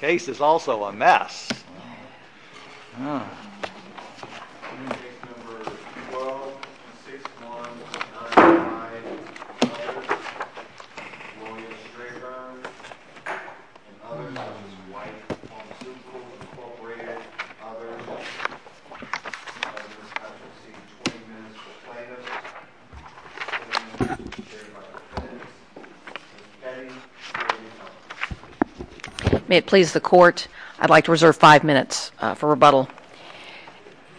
Case is also a mess. May it please the Court, I'd like to reserve five minutes for rebuttal.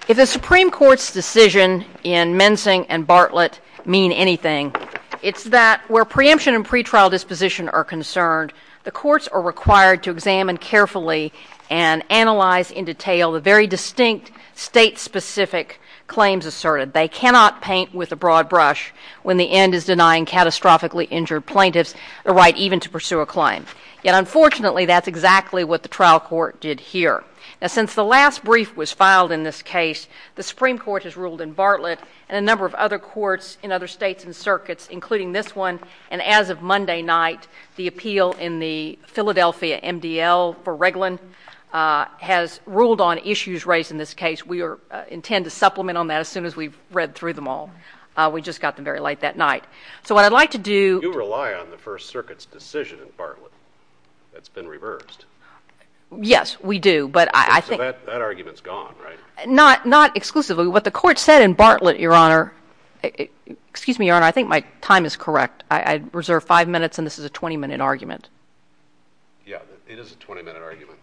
If the Supreme Court's decision in Mensing and Bartlett mean anything, it's that where preemption and pretrial disposition are concerned, the courts are required to examine carefully and analyze in detail the very distinct state-specific claims asserted. They cannot paint with a broad brush when the end is denying catastrophically injured plaintiffs the right even to pursue a claim. Yet, unfortunately, that's exactly what the trial court did here. Now, since the last brief was filed in this case, the Supreme Court has ruled in Bartlett and a number of other courts in other states and circuits, including this one, and as of Monday night, the appeal in the Philadelphia MDL for Reglan has ruled on issues raised in this case. We intend to supplement on that as soon as we've read through them all. We just got them very late that night. So what I'd like to do— You rely on the First Circuit's decision in Bartlett. That's been reversed. Yes, we do, but I think— So that argument's gone, right? Not exclusively. What the Court said in Bartlett, Your Honor— Excuse me, Your Honor, I think my time is correct. I reserve five minutes, and this is a 20-minute argument. Yeah, it is a 20-minute argument.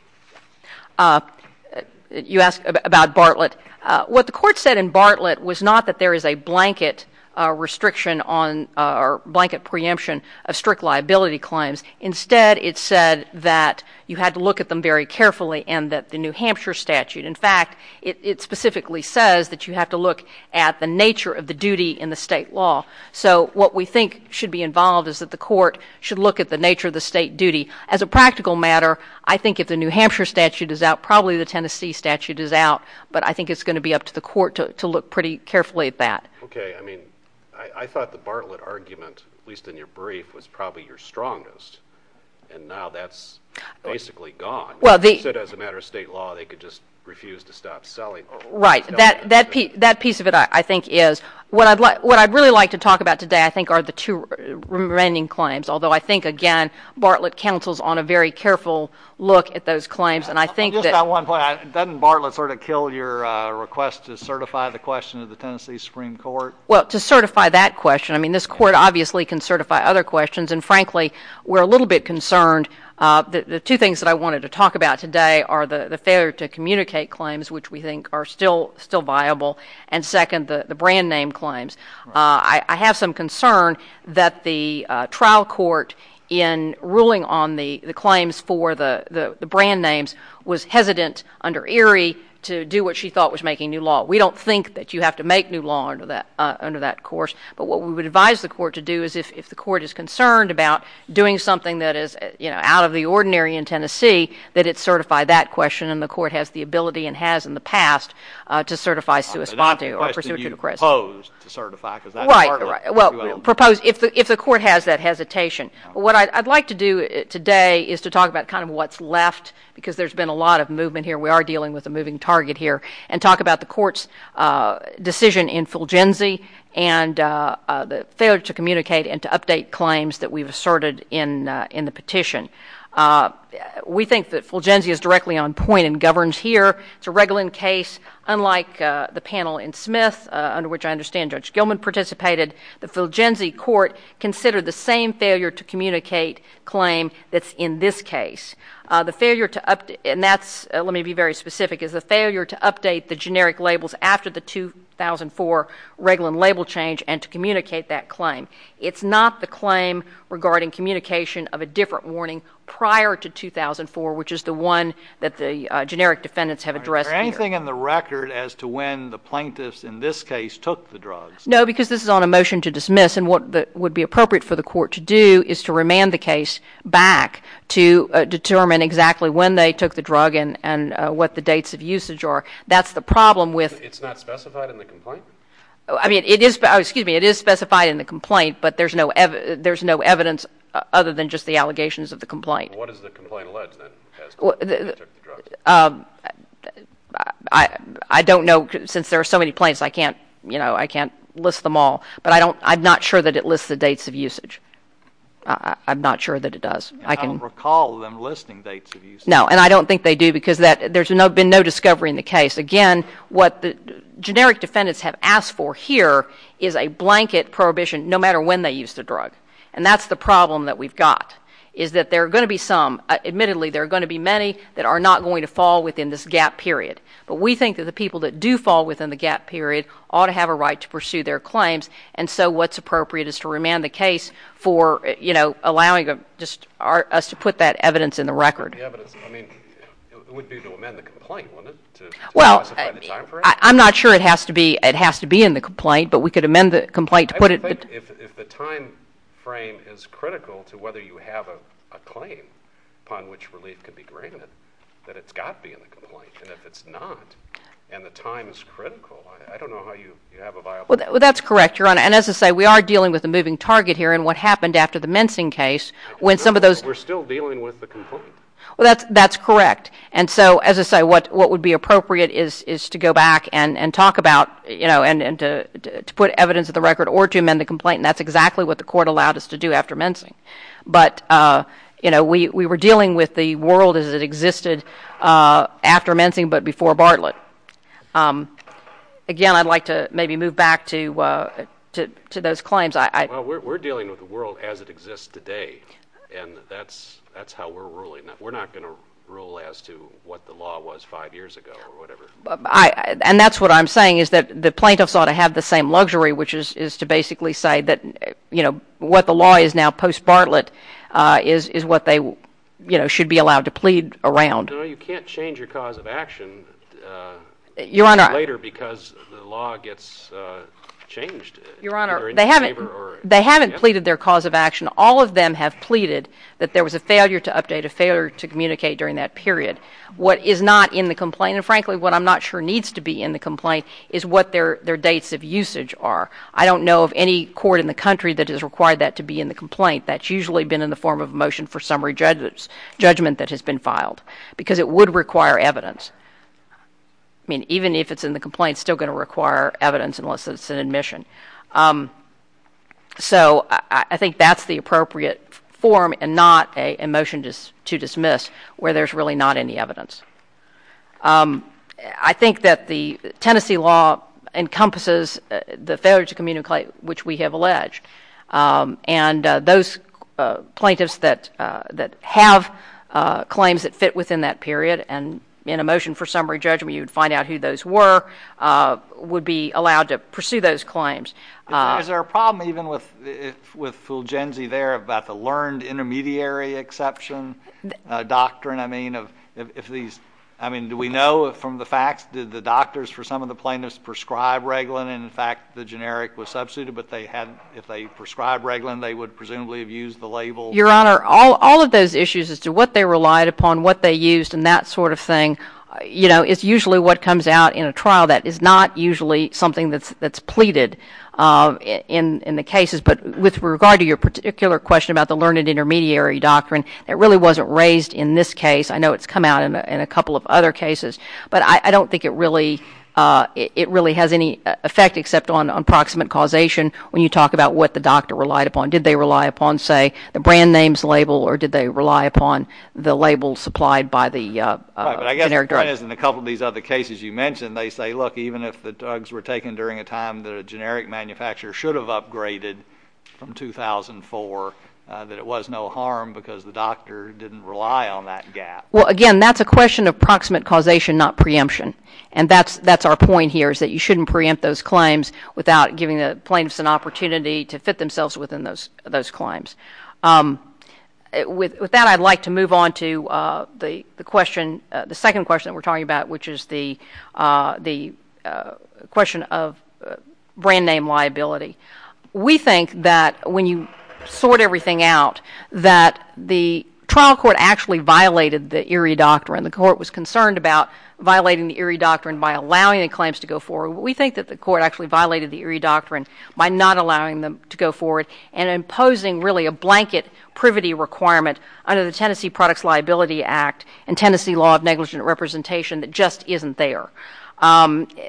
You asked about Bartlett. What the Court said in Bartlett was not that there is a blanket restriction on or blanket preemption of strict liability claims. Instead, it said that you had to look at them very carefully and that the New Hampshire statute— in fact, it specifically says that you have to look at the nature of the duty in the state law. So what we think should be involved is that the Court should look at the nature of the state duty. As a practical matter, I think if the New Hampshire statute is out, probably the Tennessee statute is out. But I think it's going to be up to the Court to look pretty carefully at that. Okay. I mean, I thought the Bartlett argument, at least in your brief, was probably your strongest. And now that's basically gone. You said as a matter of state law, they could just refuse to stop selling— Right. That piece of it, I think, is— What I'd really like to talk about today, I think, are the two remaining claims, although I think, again, Bartlett counsels on a very careful look at those claims, and I think that— Just on one point, doesn't Bartlett sort of kill your request to certify the question of the Tennessee Supreme Court? Well, to certify that question, I mean, this Court obviously can certify other questions. And frankly, we're a little bit concerned. The two things that I wanted to talk about today are the failure to communicate claims, which we think are still viable, and second, the brand name claims. I have some concern that the trial court, in ruling on the claims for the brand names, was hesitant under Erie to do what she thought was making new law. We don't think that you have to make new law under that course. But what we would advise the Court to do is, if the Court is concerned about doing something that is, you know, out of the ordinary in Tennessee, that it certify that question, and the Court has the ability and has in the past to certify sui sponte or pursuant to the question. Right, right. Well, if the Court has that hesitation. What I'd like to do today is to talk about kind of what's left, because there's been a lot of movement here. We are dealing with a moving target here. And talk about the Court's decision in Fulgenzi and the failure to communicate and to update claims that we've asserted in the petition. We think that Fulgenzi is directly on point and governs here. It's a Reglan case, unlike the panel in Smith, under which I understand Judge Gilman participated. The Fulgenzi Court considered the same failure to communicate claim that's in this case. The failure to update, and that's, let me be very specific, is the failure to update the generic labels after the 2004 Reglan label change and to communicate that claim. It's not the claim regarding communication of a different warning prior to 2004, which is the one that the generic defendants have addressed here. Is there anything in the record as to when the plaintiffs in this case took the drugs? No, because this is on a motion to dismiss, and what would be appropriate for the Court to do is to remand the case back to determine exactly when they took the drug and what the dates of usage are. That's the problem with — It's not specified in the complaint? I mean, it is specified in the complaint, but there's no evidence other than just the allegations of the complaint. What is the complaint alleged, then, as to when they took the drugs? I don't know. Since there are so many plaintiffs, I can't list them all, but I'm not sure that it lists the dates of usage. I'm not sure that it does. I don't recall them listing dates of usage. No, and I don't think they do because there's been no discovery in the case. Again, what the generic defendants have asked for here is a blanket prohibition, no matter when they used the drug, and that's the problem that we've got, is that there are going to be some. Admittedly, there are going to be many that are not going to fall within this gap period, but we think that the people that do fall within the gap period ought to have a right to pursue their claims, and so what's appropriate is to remand the case for, you know, allowing us to put that evidence in the record. Yeah, but I mean, it would be to amend the complaint, wouldn't it? Well, I'm not sure it has to be in the complaint, but we could amend the complaint to put it — Well, I think if the time frame is critical to whether you have a claim upon which relief could be granted, that it's got to be in the complaint, and if it's not and the time is critical, I don't know how you have a viable — Well, that's correct, Your Honor, and as I say, we are dealing with a moving target here in what happened after the mensing case. I don't know, but we're still dealing with the complaint. Well, that's correct, and so as I say, what would be appropriate is to go back and talk about, you know, and to put evidence in the record or to amend the complaint, and that's exactly what the court allowed us to do after mensing. But, you know, we were dealing with the world as it existed after mensing but before Bartlett. Again, I'd like to maybe move back to those claims. Well, we're dealing with the world as it exists today, and that's how we're ruling. We're not going to rule as to what the law was five years ago or whatever. And that's what I'm saying is that the plaintiffs ought to have the same luxury, which is to basically say that, you know, what the law is now post-Bartlett is what they, you know, should be allowed to plead around. No, you can't change your cause of action later because the law gets changed. Your Honor, they haven't pleaded their cause of action. All of them have pleaded that there was a failure to update, a failure to communicate during that period. But what is not in the complaint, and frankly what I'm not sure needs to be in the complaint, is what their dates of usage are. I don't know of any court in the country that has required that to be in the complaint. That's usually been in the form of a motion for summary judgment that has been filed because it would require evidence. I mean, even if it's in the complaint, it's still going to require evidence unless it's an admission. So I think that's the appropriate form and not a motion to dismiss where there's really not any evidence. I think that the Tennessee law encompasses the failure to communicate, which we have alleged. And those plaintiffs that have claims that fit within that period, and in a motion for summary judgment you would find out who those were, would be allowed to pursue those claims. Is there a problem even with Fulgenzi there about the learned intermediary exception doctrine? I mean, do we know from the facts? Did the doctors for some of the plaintiffs prescribe Reglan, and in fact the generic was substituted, but if they prescribed Reglan they would presumably have used the label? Your Honor, all of those issues as to what they relied upon, what they used, and that sort of thing, it's usually what comes out in a trial that is not usually something that's pleaded in the cases. But with regard to your particular question about the learned intermediary doctrine, it really wasn't raised in this case. I know it's come out in a couple of other cases. But I don't think it really has any effect except on approximate causation when you talk about what the doctor relied upon. Did they rely upon, say, the brand names label, or did they rely upon the label supplied by the generic drug? Right, but I guess the point is in a couple of these other cases you mentioned they say, look, even if the drugs were taken during a time that a generic manufacturer should have upgraded from 2004, that it was no harm because the doctor didn't rely on that gap. Well, again, that's a question of approximate causation, not preemption. And that's our point here is that you shouldn't preempt those claims without giving the plaintiffs an opportunity to fit themselves within those claims. With that, I'd like to move on to the second question that we're talking about, which is the question of brand name liability. We think that when you sort everything out, that the trial court actually violated the Erie Doctrine. The court was concerned about violating the Erie Doctrine by allowing the claims to go forward. We think that the court actually violated the Erie Doctrine by not allowing them to go forward and imposing really a blanket privity requirement under the Tennessee Products Liability Act and Tennessee Law of Negligent Representation that just isn't there.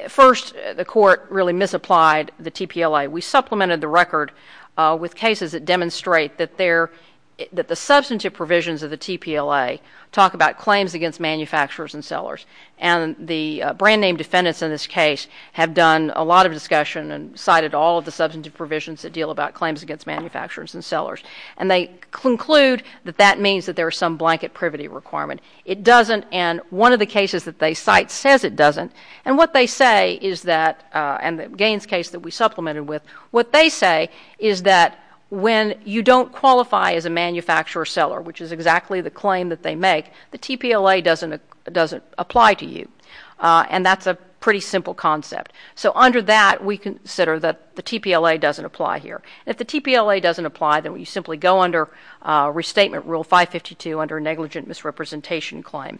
First, the court really misapplied the TPLA. We supplemented the record with cases that demonstrate that the substantive provisions of the TPLA talk about claims against manufacturers and sellers. And the brand name defendants in this case have done a lot of discussion and cited all of the substantive provisions that deal about claims against manufacturers and sellers. And they conclude that that means that there is some blanket privity requirement. It doesn't. And one of the cases that they cite says it doesn't. And what they say is that, and the Gaines case that we supplemented with, what they say is that when you don't qualify as a manufacturer or seller, which is exactly the claim that they make, the TPLA doesn't apply to you. And that's a pretty simple concept. So under that, we consider that the TPLA doesn't apply here. If the TPLA doesn't apply, then we simply go under Restatement Rule 552 under a negligent misrepresentation claim.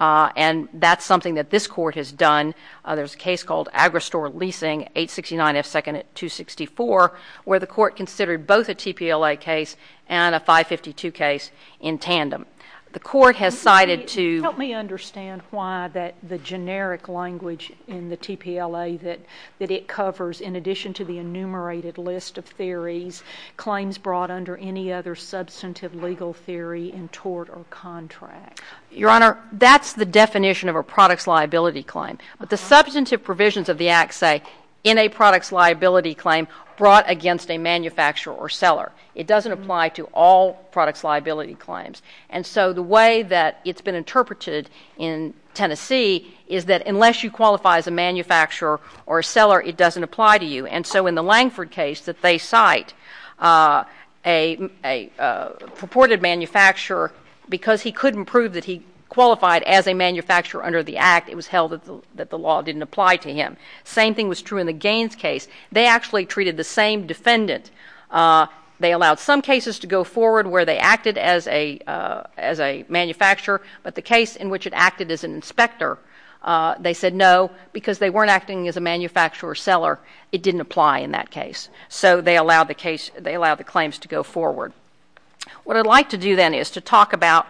And that's something that this court has done. There's a case called Agristore Leasing, 869 F. 2nd at 264, where the court considered both a TPLA case and a 552 case in tandem. The court has cited to— Help me understand why the generic language in the TPLA that it covers, in addition to the enumerated list of theories, claims brought under any other substantive legal theory in tort or contract. Your Honor, that's the definition of a products liability claim. But the substantive provisions of the Act say in a products liability claim brought against a manufacturer or seller. It doesn't apply to all products liability claims. And so the way that it's been interpreted in Tennessee is that unless you qualify as a manufacturer or a seller, it doesn't apply to you. And so in the Langford case that they cite, a purported manufacturer, because he couldn't prove that he qualified as a manufacturer under the Act, it was held that the law didn't apply to him. Same thing was true in the Gaines case. They actually treated the same defendant. They allowed some cases to go forward where they acted as a manufacturer, but the case in which it acted as an inspector, they said no, because they weren't acting as a manufacturer or seller, it didn't apply in that case. So they allowed the claims to go forward. What I'd like to do then is to talk about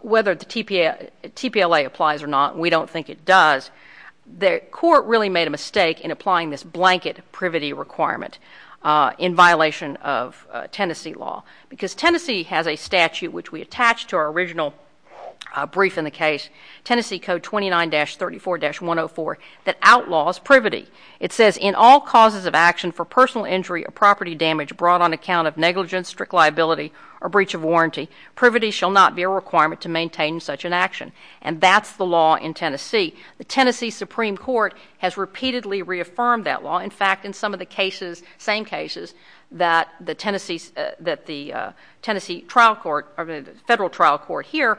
whether the TPLA applies or not. We don't think it does. The court really made a mistake in applying this blanket privity requirement in violation of Tennessee law, because Tennessee has a statute which we attach to our original brief in the case, Tennessee Code 29-34-104, that outlaws privity. It says, in all causes of action for personal injury or property damage brought on account of negligence, strict liability, or breach of warranty, privity shall not be a requirement to maintain such an action. And that's the law in Tennessee. The Tennessee Supreme Court has repeatedly reaffirmed that law. In fact, in some of the cases, same cases, that the Tennessee trial court or the federal trial court here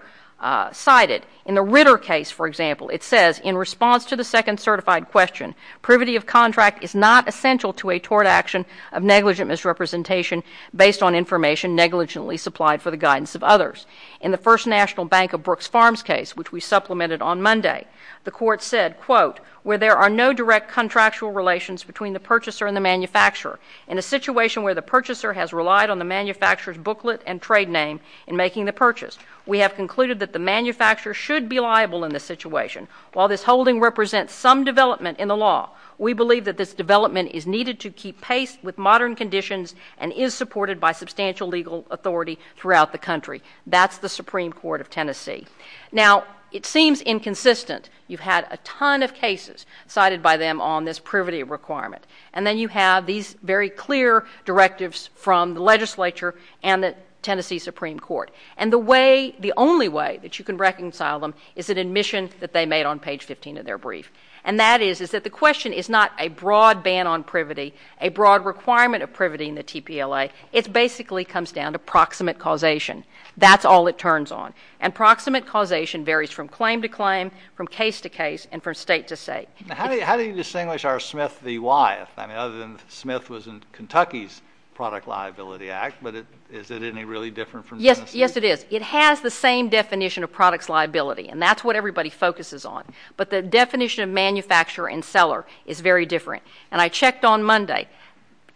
cited. In the Ritter case, for example, it says, in response to the second certified question, privity of contract is not essential to a tort action of negligent misrepresentation based on information negligently supplied for the guidance of others. In the First National Bank of Brooks Farms case, which we supplemented on Monday, the court said, quote, where there are no direct contractual relations between the purchaser and the manufacturer, in a situation where the purchaser has relied on the manufacturer's booklet and trade name in making the purchase, we have concluded that the manufacturer should be liable in this situation. While this holding represents some development in the law, we believe that this development is needed to keep pace with modern conditions and is supported by substantial legal authority throughout the country. That's the Supreme Court of Tennessee. Now, it seems inconsistent. You've had a ton of cases cited by them on this privity requirement. And then you have these very clear directives from the legislature and the Tennessee Supreme Court. And the way, the only way that you can reconcile them is an admission that they made on page 15 of their brief. And that is that the question is not a broad ban on privity, a broad requirement of privity in the TPLA. It basically comes down to proximate causation. That's all it turns on. And proximate causation varies from claim to claim, from case to case, and from state to state. How do you distinguish R. Smith v. Wyeth? I mean, other than Smith was in Kentucky's Product Liability Act, but is it any really different from Tennessee? Yes, it is. It has the same definition of product's liability, and that's what everybody focuses on. But the definition of manufacturer and seller is very different. And I checked on Monday.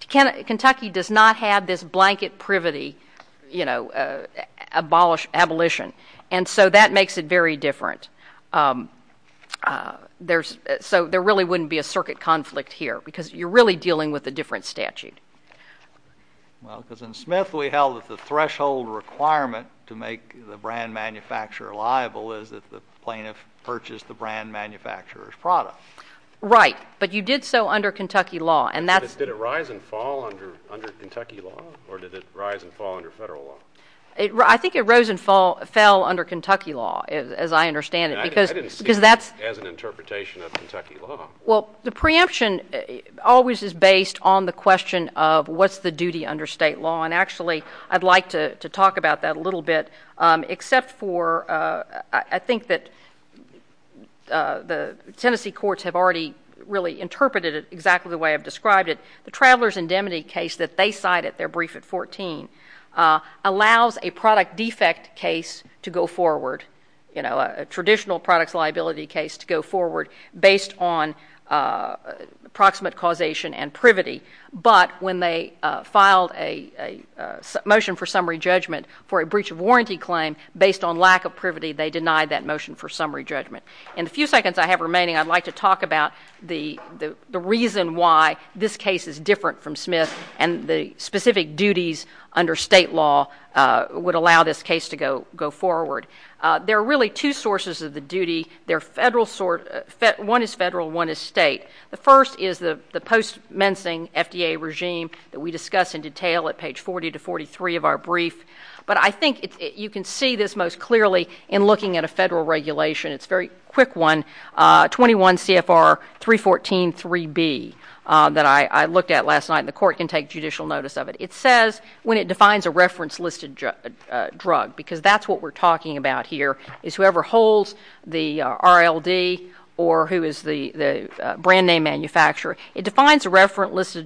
Kentucky does not have this blanket privity, you know, abolition. And so that makes it very different. So there really wouldn't be a circuit conflict here because you're really dealing with a different statute. Well, because in Smith we held that the threshold requirement to make the brand manufacturer liable is that the plaintiff purchased the brand manufacturer's product. Right. But you did so under Kentucky law. Did it rise and fall under Kentucky law, or did it rise and fall under federal law? I think it rose and fell under Kentucky law, as I understand it. I didn't see it as an interpretation of Kentucky law. Well, the preemption always is based on the question of what's the duty under state law. And actually, I'd like to talk about that a little bit, except for I think that the Tennessee courts have already really interpreted it exactly the way I've described it. The Traveler's Indemnity case that they cited, their brief at 14, allows a product defect case to go forward, you know, a traditional product's liability case to go forward based on proximate causation and privity. But when they filed a motion for summary judgment for a breach of warranty claim, based on lack of privity, they denied that motion for summary judgment. In the few seconds I have remaining, I'd like to talk about the reason why this case is different from Smith and the specific duties under state law would allow this case to go forward. There are really two sources of the duty. One is federal, one is state. The first is the post-mensing FDA regime that we discuss in detail at page 40 to 43 of our brief. But I think you can see this most clearly in looking at a federal regulation. It's a very quick one, 21 CFR 314.3b, that I looked at last night, and the court can take judicial notice of it. It says when it defines a reference-listed drug, because that's what we're talking about here, is whoever holds the RLD or who is the brand name manufacturer, it defines a reference-listed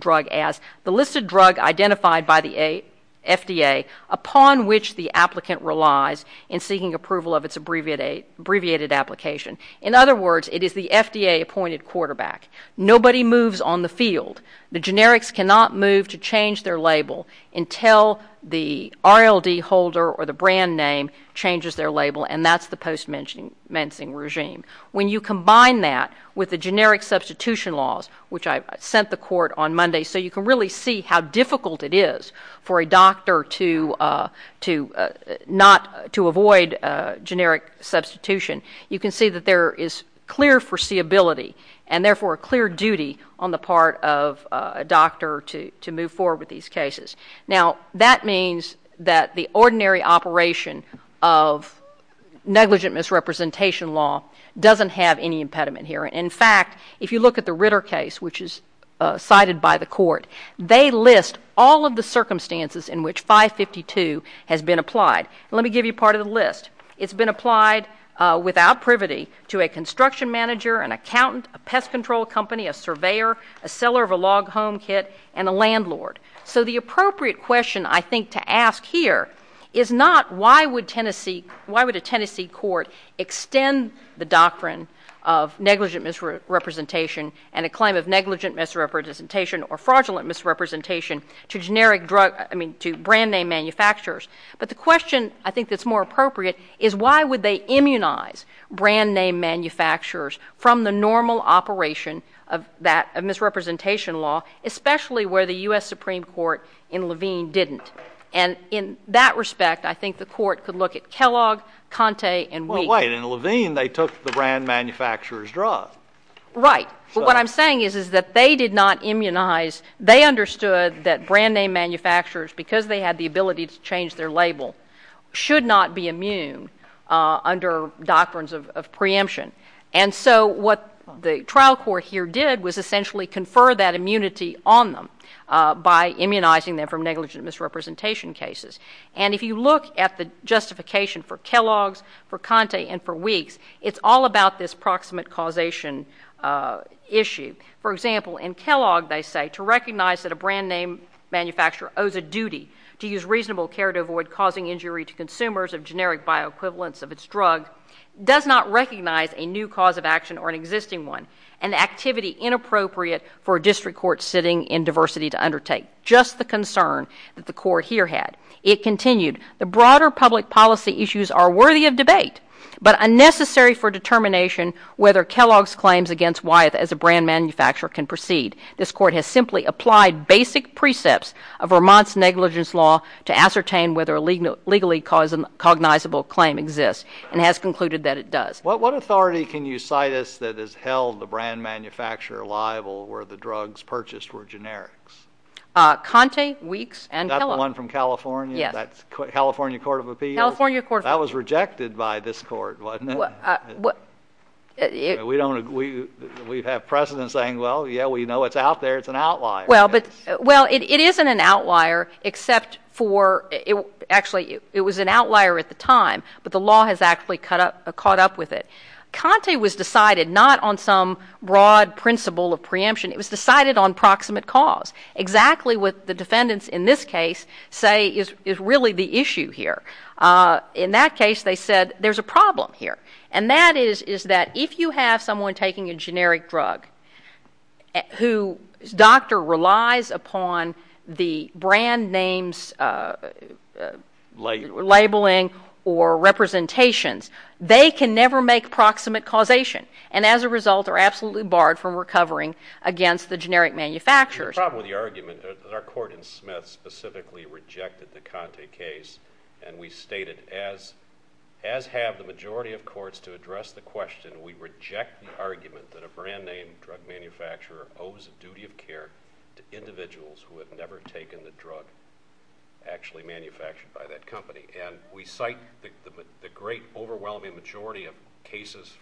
drug as the listed drug identified by the FDA upon which the applicant relies in seeking approval of its abbreviated application. In other words, it is the FDA-appointed quarterback. Nobody moves on the field. The generics cannot move to change their label until the RLD holder or the brand name changes their label, and that's the post-mensing regime. When you combine that with the generic substitution laws, which I sent the court on Monday, so you can really see how difficult it is for a doctor to avoid generic substitution, you can see that there is clear foreseeability and, therefore, a clear duty on the part of a doctor to move forward with these cases. Now, that means that the ordinary operation of negligent misrepresentation law doesn't have any impediment here. In fact, if you look at the Ritter case, which is cited by the court, they list all of the circumstances in which 552 has been applied. Let me give you part of the list. It's been applied without privity to a construction manager, an accountant, a pest control company, a surveyor, a seller of a log home kit, and a landlord. So the appropriate question, I think, to ask here is not, why would a Tennessee court extend the doctrine of negligent misrepresentation and a claim of negligent misrepresentation or fraudulent misrepresentation to brand name manufacturers? But the question, I think, that's more appropriate is, why would they immunize brand name manufacturers from the normal operation of misrepresentation law, especially where the U.S. Supreme Court in Levine didn't? And in that respect, I think the court could look at Kellogg, Conte, and Week. Well, wait. In Levine, they took the brand manufacturer's drug. Right. But what I'm saying is that they did not immunize. They understood that brand name manufacturers, because they had the ability to change their label, should not be immune under doctrines of preemption. And so what the trial court here did was essentially confer that immunity on them by immunizing them from negligent misrepresentation cases. And if you look at the justification for Kellogg's, for Conte, and for Week's, it's all about this proximate causation issue. For example, in Kellogg, they say, to recognize that a brand name manufacturer owes a duty to use reasonable care to avoid causing injury to consumers of generic bioequivalents of its drug does not recognize a new cause of action or an existing one, an activity inappropriate for a district court sitting in diversity to undertake. Just the concern that the court here had. It continued, the broader public policy issues are worthy of debate, but unnecessary for determination whether Kellogg's claims against Wyeth as a brand manufacturer can proceed. This court has simply applied basic precepts of Vermont's negligence law to ascertain whether a legally cognizable claim exists and has concluded that it does. What authority can you cite us that has held the brand manufacturer liable where the drugs purchased were generics? Conte, Week's, and Kellogg. That one from California? Yes. California Court of Appeals? California Court of Appeals. That was rejected by this court, wasn't it? We have precedent saying, well, yeah, we know it's out there. It's an outlier. Well, it isn't an outlier except for, actually, it was an outlier at the time, but the law has actually caught up with it. Conte was decided not on some broad principle of preemption. It was decided on proximate cause, exactly what the defendants in this case say is really the issue here. In that case, they said there's a problem here, and that is that if you have someone taking a generic drug whose doctor relies upon the brand names, labeling, or representations, they can never make proximate causation and, as a result, are absolutely barred from recovering against the generic manufacturers. There's a problem with the argument. Our court in Smith specifically rejected the Conte case, and we stated, as have the majority of courts to address the question, we reject the argument that a brand name drug manufacturer owes a duty of care to individuals who have never taken the drug actually manufactured by that company. And we cite the great overwhelming majority of cases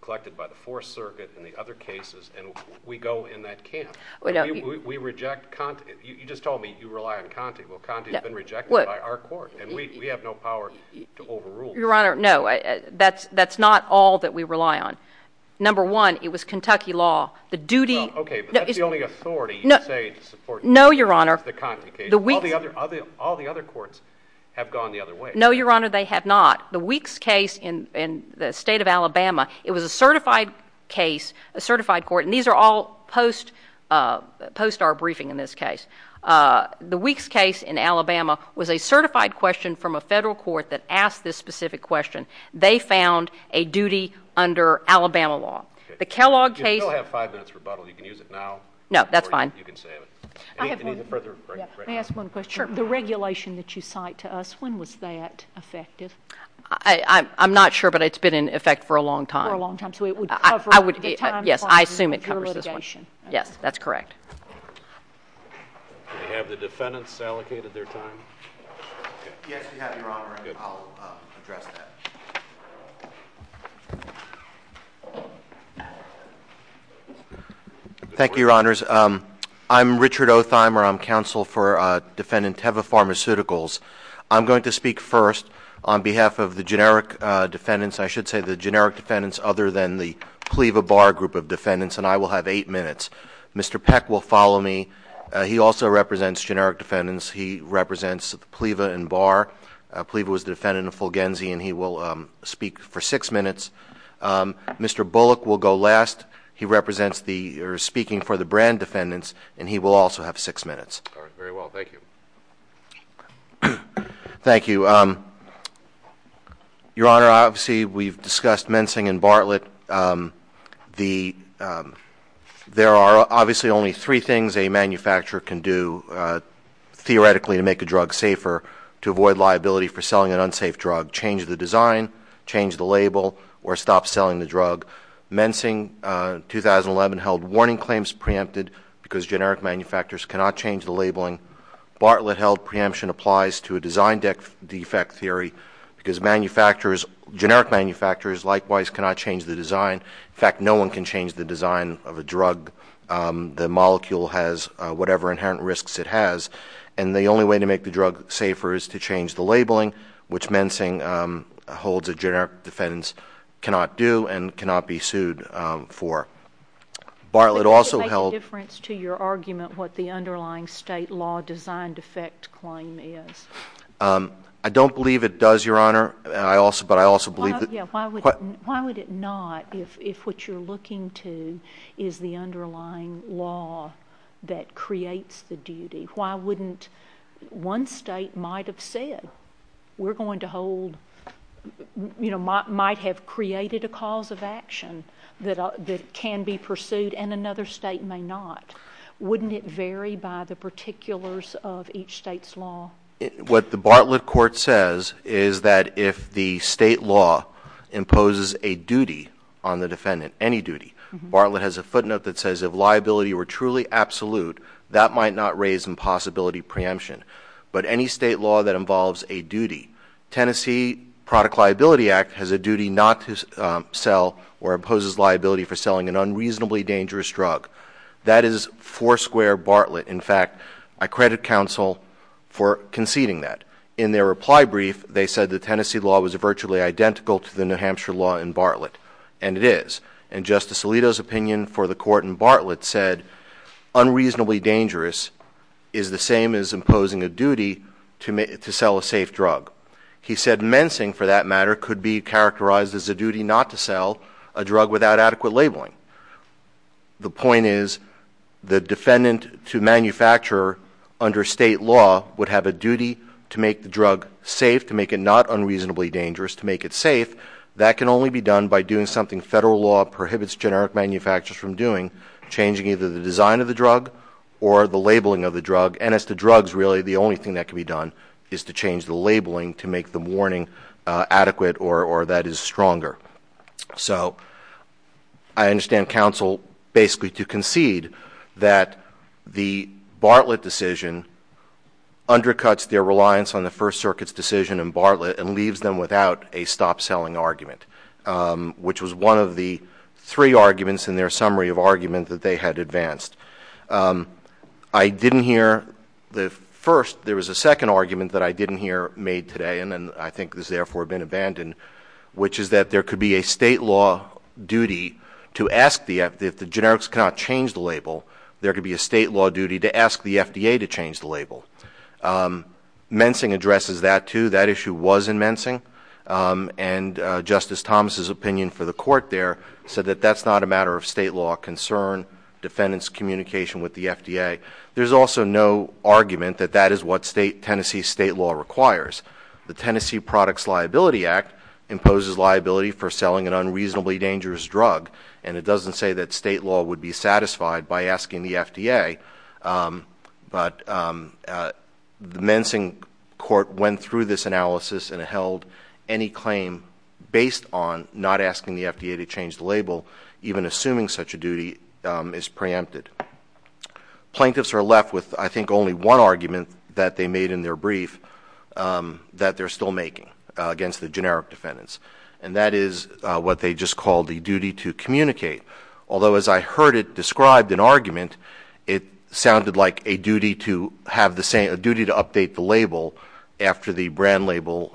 collected by the Fourth Circuit and the other cases, and we go in that camp. We reject Conte. You just told me you rely on Conte. Well, Conte has been rejected by our court, and we have no power to overrule it. Your Honor, no. That's not all that we rely on. Number one, it was Kentucky law. The duty— Well, okay, but that's the only authority you say to support the Conte case. No, Your Honor. All the other courts have gone the other way. No, Your Honor, they have not. The Weeks case in the state of Alabama, it was a certified case, a certified court, and these are all post our briefing in this case. The Weeks case in Alabama was a certified question from a federal court that asked this specific question. They found a duty under Alabama law. The Kellogg case— You still have five minutes rebuttal. You can use it now. No, that's fine. You can save it. Any further— May I ask one question? Sure. The regulation that you cite to us, when was that effective? I'm not sure, but it's been in effect for a long time. For a long time. So it would cover— Yes, I assume it covers this one. Your litigation. Yes, that's correct. Do we have the defendants allocated their time? Yes, we have, Your Honor, and I'll address that. Thank you, Your Honors. I'm Richard Otheimer. I'm counsel for Defendant Teva Pharmaceuticals. I'm going to speak first on behalf of the generic defendants. I should say the generic defendants other than the PLEVA-BAR group of defendants, and I will have eight minutes. Mr. Peck will follow me. He also represents generic defendants. He represents PLEVA and BAR. PLEVA was the defendant of Fulgenzy, and he will speak for six minutes. Mr. Bullock will go last. He represents the—or is speaking for the brand defendants, and he will also have six minutes. All right. Very well. Thank you. Thank you. Your Honor, obviously we've discussed mensing and Bartlett. There are obviously only three things a manufacturer can do theoretically to make a drug safer to avoid liability for selling an unsafe drug, change the design, change the label, or stop selling the drug. Mensing, 2011, held warning claims preempted because generic manufacturers cannot change the labeling. Bartlett held preemption applies to a design defect theory because generic manufacturers likewise cannot change the design. In fact, no one can change the design of a drug. The molecule has whatever inherent risks it has, and the only way to make the drug safer is to change the labeling, which mensing holds that generic defendants cannot do and cannot be sued for. Bartlett also held— Does it make a difference to your argument what the underlying state law design defect claim is? I don't believe it does, Your Honor, but I also believe that— Why would it not if what you're looking to is the underlying law that creates the duty? One state might have created a cause of action that can be pursued and another state may not. Wouldn't it vary by the particulars of each state's law? What the Bartlett court says is that if the state law imposes a duty on the defendant, any duty, Bartlett has a footnote that says, if liability were truly absolute, that might not raise impossibility preemption, but any state law that involves a duty— Tennessee Product Liability Act has a duty not to sell or imposes liability for selling an unreasonably dangerous drug. That is foursquare Bartlett. In fact, I credit counsel for conceding that. In their reply brief, they said the Tennessee law was virtually identical to the New Hampshire law in Bartlett, and it is, and Justice Alito's opinion for the court in Bartlett said unreasonably dangerous is the same as imposing a duty to sell a safe drug. He said mensing, for that matter, could be characterized as a duty not to sell a drug without adequate labeling. The point is the defendant to manufacture under state law would have a duty to make the drug safe, to make it not unreasonably dangerous, to make it safe. That can only be done by doing something federal law prohibits generic manufacturers from doing, changing either the design of the drug or the labeling of the drug. And as to drugs, really, the only thing that can be done is to change the labeling to make the warning adequate or that is stronger. So I understand counsel basically to concede that the Bartlett decision undercuts their reliance on the First Circuit's decision in Bartlett and leaves them without a stop selling argument, which was one of the three arguments in their summary of argument that they had advanced. I didn't hear the first. There was a second argument that I didn't hear made today, and I think has therefore been abandoned, which is that there could be a state law duty to ask the, if the generics cannot change the label, there could be a state law duty to ask the FDA to change the label. Mensing addresses that, too. That issue was in Mensing. And Justice Thomas's opinion for the court there said that that's not a matter of state law concern, defendant's communication with the FDA. There's also no argument that that is what Tennessee state law requires. The Tennessee Products Liability Act imposes liability for selling an unreasonably dangerous drug, and it doesn't say that state law would be satisfied by asking the FDA. But the Mensing court went through this analysis and held any claim based on not asking the FDA to change the label, even assuming such a duty is preempted. Plaintiffs are left with, I think, only one argument that they made in their brief that they're still making against the generic defendants, and that is what they just called the duty to communicate. Although, as I heard it described in argument, it sounded like a duty to have the same, a duty to update the label after the brand label.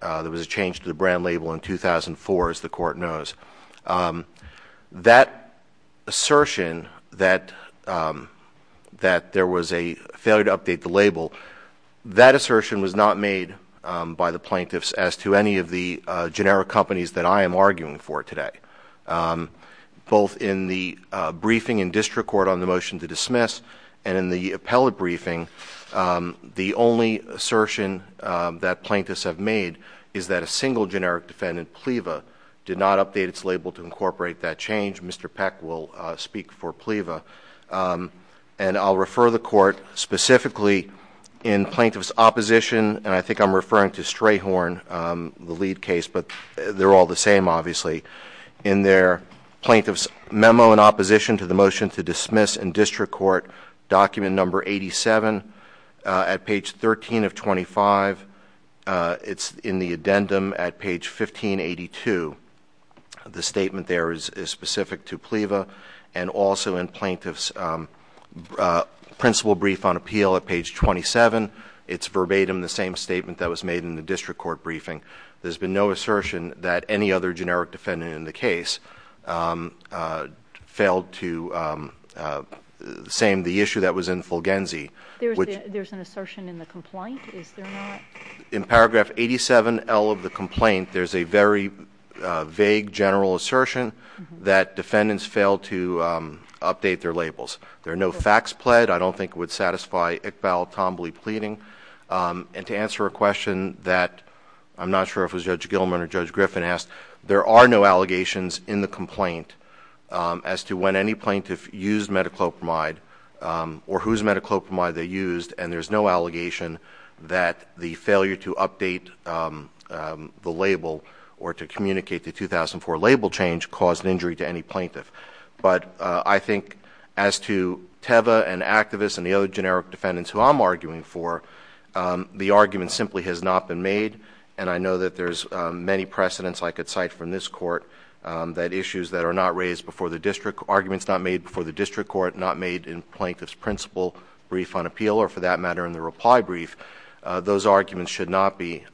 There was a change to the brand label in 2004, as the court knows. That assertion that there was a failure to update the label, that assertion was not made by the plaintiffs as to any of the generic companies that I am arguing for today. Both in the briefing in district court on the motion to dismiss and in the appellate briefing, the only assertion that plaintiffs have made is that a single generic defendant, PLEVA, did not update its label to incorporate that change. Mr. Peck will speak for PLEVA. And I'll refer the court specifically in plaintiff's opposition, and I think I'm referring to Strayhorn, the lead case, but they're all the same, obviously. In their plaintiff's memo in opposition to the motion to dismiss in district court, document number 87, at page 13 of 25. It's in the addendum at page 1582. The statement there is specific to PLEVA, and also in plaintiff's principle brief on appeal at page 27. It's verbatim the same statement that was made in the district court briefing. There's been no assertion that any other generic defendant in the case failed to same the issue that was in Fulgenzi. There's an assertion in the complaint, is there not? In paragraph 87L of the complaint, there's a very vague general assertion that defendants failed to update their labels. There are no facts pled. I don't think it would satisfy Iqbal Tambly pleading. And to answer a question that I'm not sure if it was Judge Gilman or Judge Griffin asked, there are no allegations in the complaint as to when any plaintiff used metaclopramide or whose metaclopramide they used, and there's no allegation that the failure to update the label or to communicate the 2004 label change caused injury to any plaintiff. But I think as to Teva and activists and the other generic defendants who I'm arguing for, the argument simply has not been made, and I know that there's many precedents I could cite from this court that issues that are not raised before the district, arguments not made before the district court, not made in plaintiff's principle brief on appeal, or for that matter in the reply brief, those arguments should not be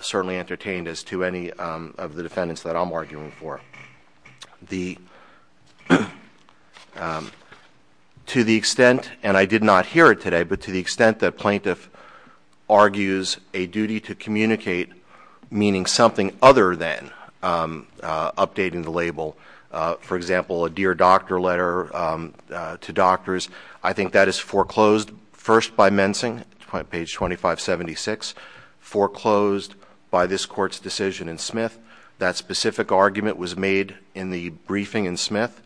certainly entertained as to any of the defendants that I'm arguing for. The, to the extent, and I did not hear it today, but to the extent that plaintiff argues a duty to communicate, meaning something other than updating the label, for example, a dear doctor letter to doctors, I think that is foreclosed first by Mensing, page 2576, foreclosed by this court's decision in Smith. That specific argument was made in the briefing in Smith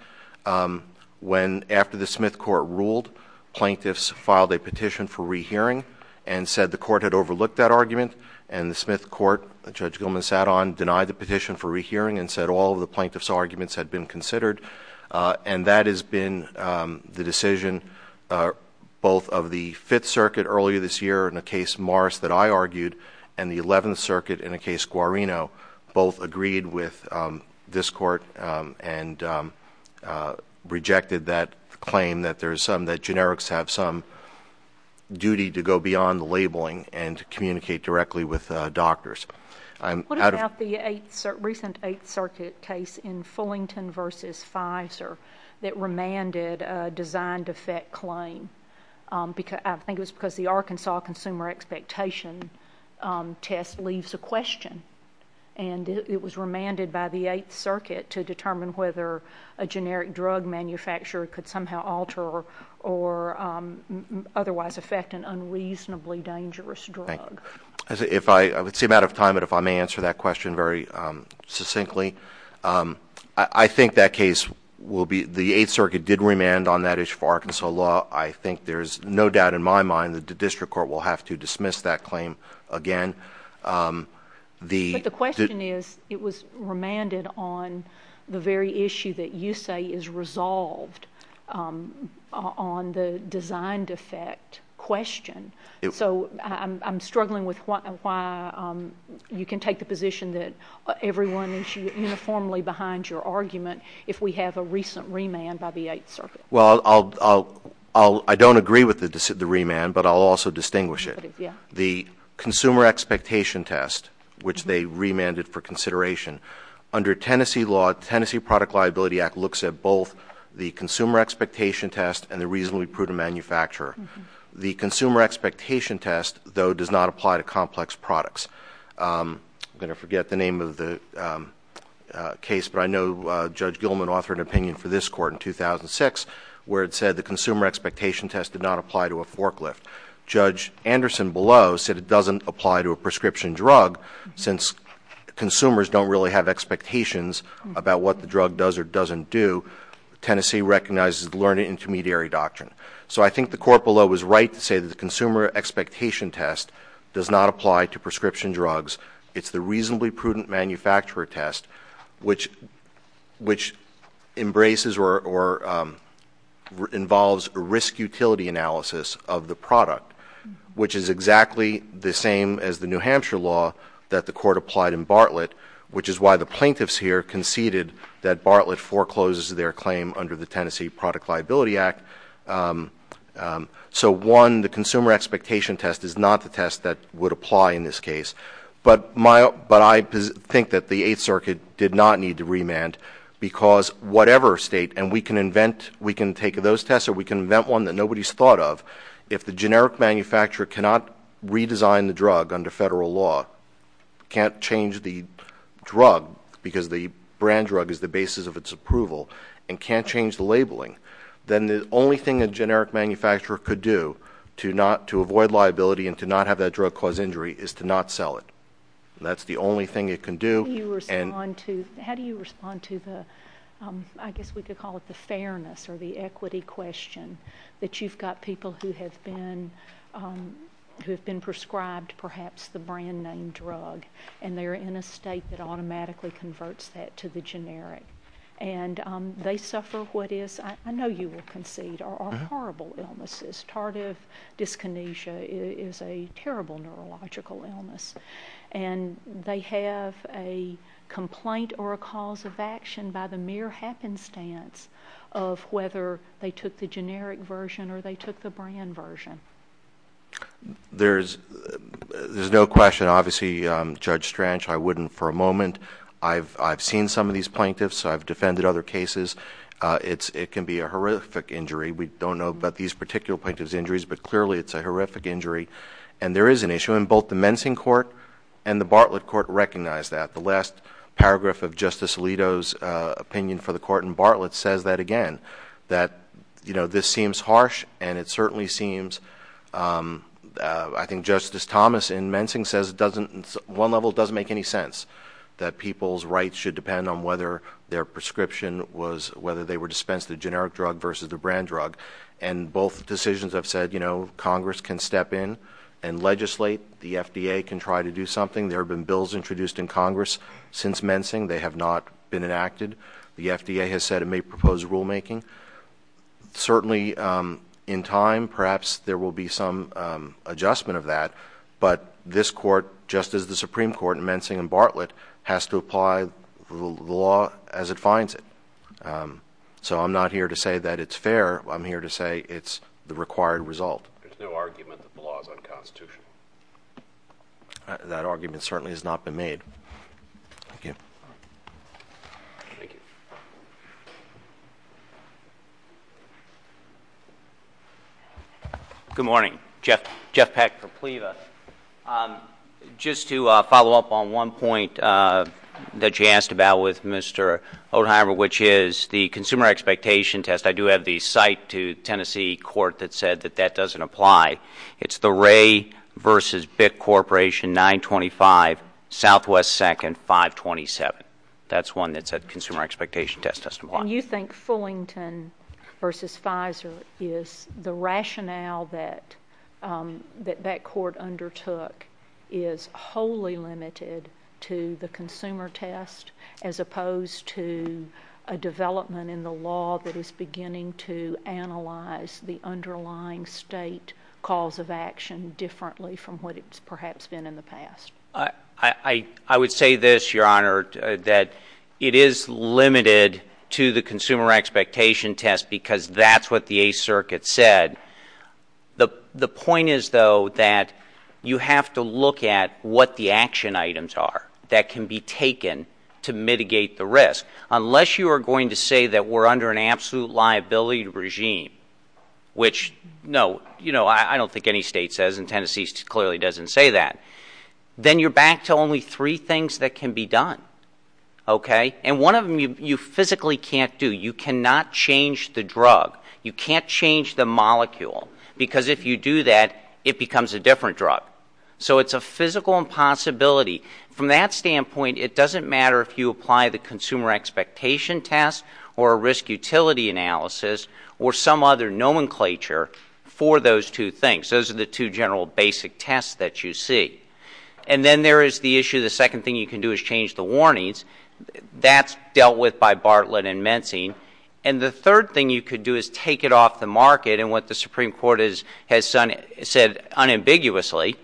when, after the Smith court ruled, plaintiffs filed a petition for rehearing and said the court had overlooked that argument, and the Smith court, Judge Gilman sat on, denied the petition for rehearing and said all of the plaintiff's arguments had been considered, and that has been the decision both of the Fifth Circuit earlier this year in a case Morris that I argued and the Eleventh Circuit in a case Guarino both agreed with this court and rejected that claim that there is some, that generics have some duty to go beyond the labeling and to communicate directly with doctors. What about the Eighth, recent Eighth Circuit case in Fullington v. Pfizer that remanded a design defect claim? I think it was because the Arkansas Consumer Expectation Test leaves a question, and it was remanded by the Eighth Circuit to determine whether a generic drug manufacturer could somehow alter or otherwise affect an unreasonably dangerous drug. I would seem out of time, but if I may answer that question very succinctly, I think that case will be, the Eighth Circuit did remand on that issue for Arkansas law. I think there is no doubt in my mind that the district court will have to dismiss that claim again. But the question is it was remanded on the very issue that you say is resolved on the design defect question. So I'm struggling with why you can take the position that everyone is uniformly behind your argument if we have a recent remand by the Eighth Circuit. Well, I don't agree with the remand, but I'll also distinguish it. The Consumer Expectation Test, which they remanded for consideration, under Tennessee law, Tennessee Product Liability Act looks at both the Consumer Expectation Test and the Reasonably Prudent Manufacturer. The Consumer Expectation Test, though, does not apply to complex products. I'm going to forget the name of the case, but I know Judge Gilman authored an opinion for this court in 2006 where it said the Consumer Expectation Test did not apply to a forklift. Judge Anderson below said it doesn't apply to a prescription drug since consumers don't really have expectations about what the drug does or doesn't do. Tennessee recognizes the learned intermediary doctrine. So I think the court below was right to say that the Consumer Expectation Test does not apply to prescription drugs. It's the Reasonably Prudent Manufacturer Test, which embraces or involves risk-utility analysis of the product, which is exactly the same as the New Hampshire law that the court applied in Bartlett, which is why the plaintiffs here conceded that Bartlett forecloses their claim under the Tennessee Product Liability Act. So, one, the Consumer Expectation Test is not the test that would apply in this case. But I think that the Eighth Circuit did not need to remand because whatever state, and we can take those tests or we can invent one that nobody's thought of, if the generic manufacturer cannot redesign the drug under federal law, can't change the drug because the brand drug is the basis of its approval and can't change the labeling, then the only thing a generic manufacturer could do to avoid liability and to not have that drug cause injury is to not sell it. That's the only thing it can do. How do you respond to the, I guess we could call it the fairness or the equity question, that you've got people who have been prescribed perhaps the brand-name drug and they're in a state that automatically converts that to the generic. And they suffer what is, I know you will concede, are horrible illnesses. Tardive dyskinesia is a terrible neurological illness. And they have a complaint or a cause of action by the mere happenstance of whether they took the generic version or they took the brand version. There's no question. Obviously, Judge Stranch, I wouldn't for a moment. I've seen some of these plaintiffs. I've defended other cases. It can be a horrific injury. We don't know about these particular plaintiff's injuries, but clearly it's a horrific injury. And there is an issue, and both the Mensing Court and the Bartlett Court recognize that. The last paragraph of Justice Alito's opinion for the court in Bartlett says that again, that this seems harsh and it certainly seems, I think Justice Thomas in Mensing says it doesn't, on one level it doesn't make any sense that people's rights should depend on whether their prescription was, whether they were dispensed the generic drug versus the brand drug. And both decisions have said, you know, Congress can step in and legislate. The FDA can try to do something. There have been bills introduced in Congress since Mensing. They have not been enacted. The FDA has said it may propose rulemaking. Certainly in time perhaps there will be some adjustment of that, but this court, just as the Supreme Court in Mensing and Bartlett, has to apply the law as it finds it. So I'm not here to say that it's fair. I'm here to say it's the required result. There's no argument that the law is unconstitutional. That argument certainly has not been made. Thank you. Good morning. Jeff Peck for PLEVA. Just to follow up on one point that you asked about with Mr. Odenheimer, which is the consumer expectation test. I do have the cite to Tennessee court that said that that doesn't apply. It's the Wray v. Bitt Corporation, 925, Southwest 2nd, 527. That's one that said consumer expectation test doesn't apply. And you think Fullington v. Pfizer is the rationale that that court undertook is wholly limited to the consumer test as opposed to a development in the law that is beginning to analyze the underlying state cause of action differently from what it's perhaps been in the past? I would say this, Your Honor, that it is limited to the consumer expectation test because that's what the Eighth Circuit said. The point is, though, that you have to look at what the action items are that can be taken to mitigate the risk. Unless you are going to say that we're under an absolute liability regime, which, no, I don't think any state says, and Tennessee clearly doesn't say that, then you're back to only three things that can be done, okay? And one of them you physically can't do. You cannot change the drug. You can't change the molecule because if you do that, it becomes a different drug. So it's a physical impossibility. From that standpoint, it doesn't matter if you apply the consumer expectation test or a risk utility analysis or some other nomenclature for those two things. Those are the two general basic tests that you see. And then there is the issue, the second thing you can do is change the warnings. That's dealt with by Bartlett and Menzing. And the third thing you could do is take it off the market. And what the Supreme Court has said unambiguously,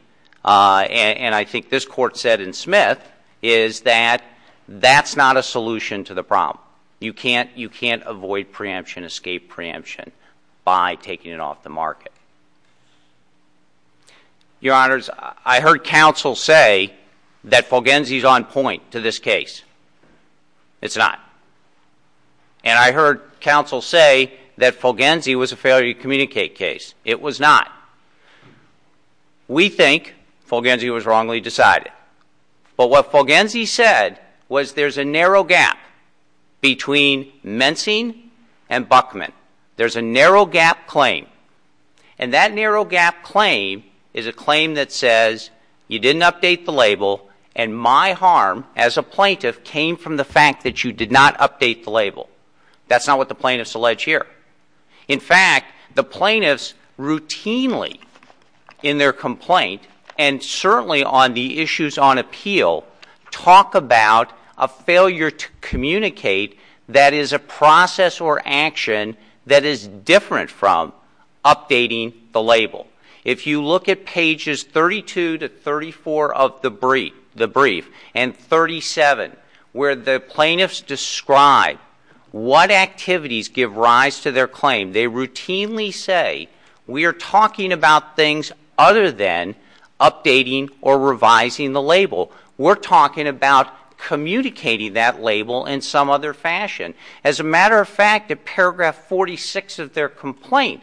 and I think this Court said in Smith, is that that's not a solution to the problem. You can't avoid preemption, escape preemption, by taking it off the market. Your Honors, I heard counsel say that Fulgenzi is on point to this case. It's not. And I heard counsel say that Fulgenzi was a failure to communicate case. It was not. We think Fulgenzi was wrongly decided. But what Fulgenzi said was there's a narrow gap between Menzing and Buckman. There's a narrow gap claim. And that narrow gap claim is a claim that says you didn't update the label and my harm as a plaintiff came from the fact that you did not update the label. That's not what the plaintiffs allege here. In fact, the plaintiffs routinely in their complaint, and certainly on the issues on appeal, talk about a failure to communicate that is a process or action that is different from updating the label. If you look at pages 32 to 34 of the brief, and 37, where the plaintiffs describe what activities give rise to their claim, they routinely say we are talking about things other than updating or revising the label. We're talking about communicating that label in some other fashion. As a matter of fact, at paragraph 46 of their complaint,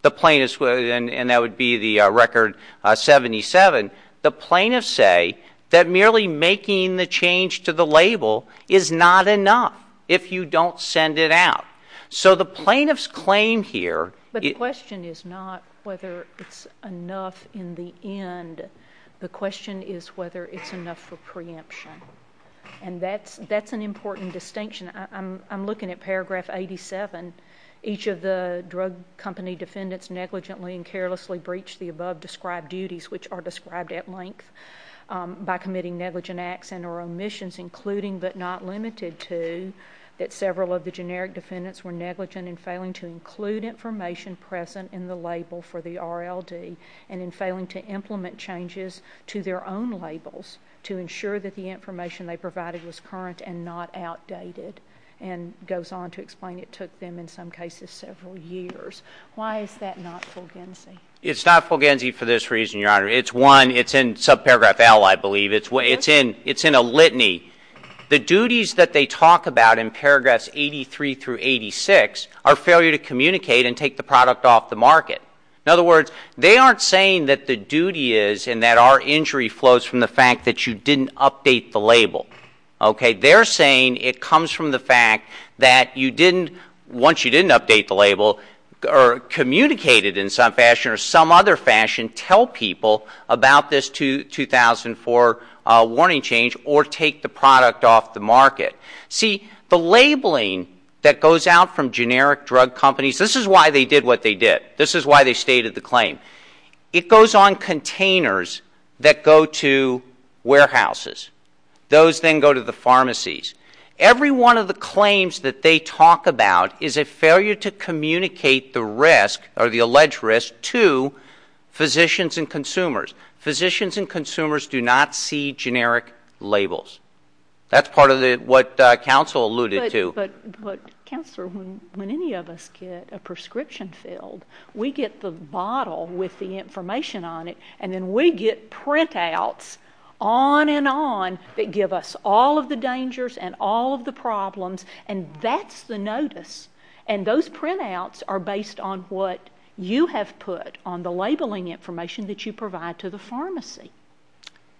the plaintiffs, and that would be the record 77, the plaintiffs say that merely making the change to the label is not enough if you don't send it out. So the plaintiffs' claim here. But the question is not whether it's enough in the end. The question is whether it's enough for preemption. And that's an important distinction. I'm looking at paragraph 87. Each of the drug company defendants negligently and carelessly breached the above-described duties, which are described at length, by committing negligent acts and or omissions, including but not limited to that several of the generic defendants were negligent in failing to include information present in the label for the RLD and in failing to implement changes to their own labels to ensure that the information they provided was current and not outdated, and goes on to explain it took them, in some cases, several years. Why is that not Fulgenzi? It's not Fulgenzi for this reason, Your Honor. It's one. It's in subparagraph L, I believe. It's in a litany. The duties that they talk about in paragraphs 83 through 86 are failure to communicate and take the product off the market. In other words, they aren't saying that the duty is and that our injury flows from the fact that you didn't update the label. They're saying it comes from the fact that once you didn't update the label or communicated in some fashion or some other fashion, tell people about this 2004 warning change or take the product off the market. See, the labeling that goes out from generic drug companies, this is why they did what they did. This is why they stated the claim. It goes on containers that go to warehouses. Those then go to the pharmacies. Every one of the claims that they talk about is a failure to communicate the risk or the alleged risk to physicians and consumers. Physicians and consumers do not see generic labels. That's part of what counsel alluded to. Counselor, when any of us get a prescription filled, we get the bottle with the information on it, and then we get printouts on and on that give us all of the dangers and all of the problems, and that's the notice. And those printouts are based on what you have put on the labeling information that you provide to the pharmacy.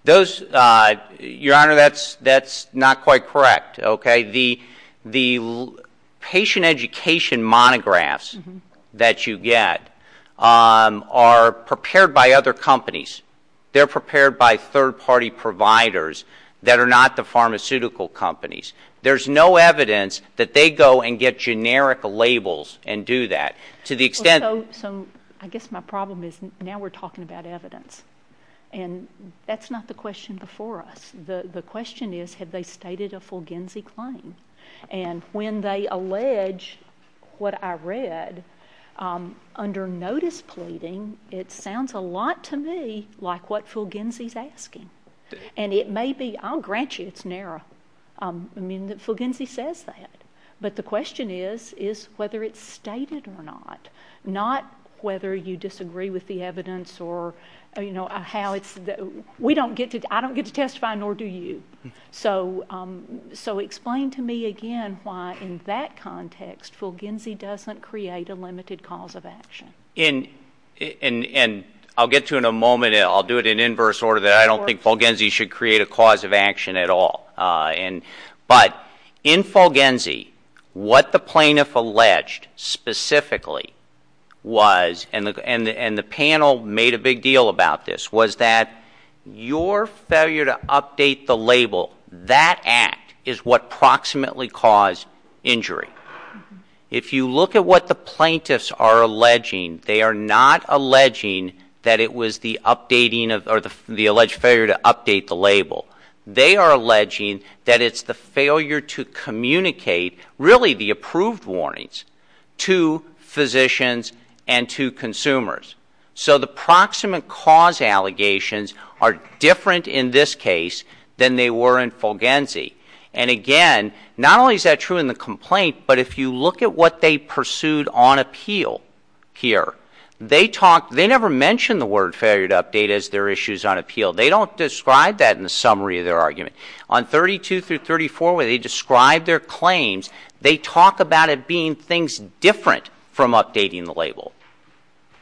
Your Honor, that's not quite correct. The patient education monographs that you get are prepared by other companies. They're prepared by third-party providers that are not the pharmaceutical companies. There's no evidence that they go and get generic labels and do that. So I guess my problem is now we're talking about evidence, and that's not the question before us. The question is, have they stated a Fulginzi claim? And when they allege what I read, under notice pleading, it sounds a lot to me like what Fulginzi's asking. And it may be, I'll grant you it's narrow. I mean, Fulginzi says that. But the question is, is whether it's stated or not, not whether you disagree with the evidence or, you know, how it's the— I don't get to testify, nor do you. So explain to me again why, in that context, Fulginzi doesn't create a limited cause of action. And I'll get to it in a moment, and I'll do it in inverse order. I don't think Fulginzi should create a cause of action at all. But in Fulginzi, what the plaintiff alleged specifically was, and the panel made a big deal about this, was that your failure to update the label, that act, is what proximately caused injury. If you look at what the plaintiffs are alleging, they are not alleging that it was the updating or the alleged failure to update the label. They are alleging that it's the failure to communicate, really the approved warnings, to physicians and to consumers. So the proximate cause allegations are different in this case than they were in Fulginzi. And again, not only is that true in the complaint, but if you look at what they pursued on appeal here, they never mention the word failure to update as their issues on appeal. They don't describe that in the summary of their argument. On 32 through 34, where they describe their claims, they talk about it being things different from updating the label,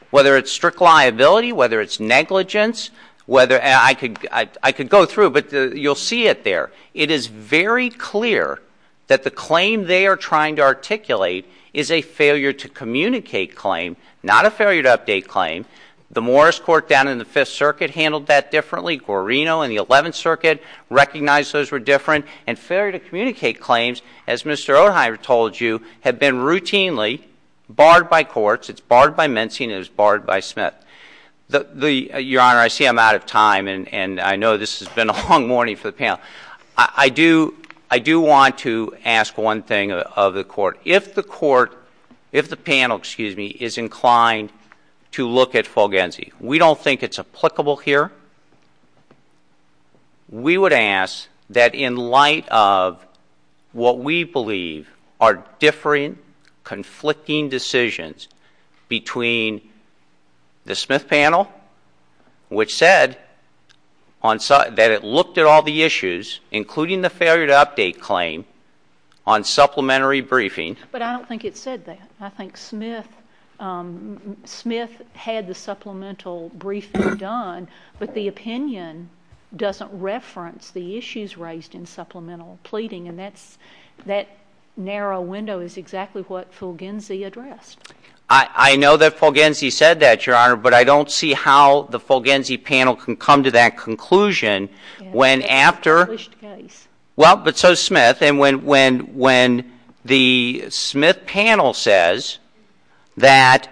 whether it's strict liability, whether it's negligence. I could go through, but you'll see it there. It is very clear that the claim they are trying to articulate is a failure to communicate claim, not a failure to update claim. The Morris Court down in the Fifth Circuit handled that differently. Guarino and the Eleventh Circuit recognized those were different. And failure to communicate claims, as Mr. Odheimer told you, have been routinely barred by courts. It's barred by Menzie and it's barred by Smith. Your Honor, I see I'm out of time, and I know this has been a long morning for the panel. I do want to ask one thing of the court. If the panel is inclined to look at Fulginzi, we don't think it's applicable here. We would ask that in light of what we believe are differing, conflicting decisions between the Smith panel, which said that it looked at all the issues, including the failure to update claim, on supplementary briefing. But I don't think it said that. I think Smith had the supplemental briefing done, but the opinion doesn't reference the issues raised in supplemental pleading, and that narrow window is exactly what Fulginzi addressed. I know that Fulginzi said that, Your Honor, but I don't see how the Fulginzi panel can come to that conclusion when after— It's a published case. Well, but so is Smith. And when the Smith panel says that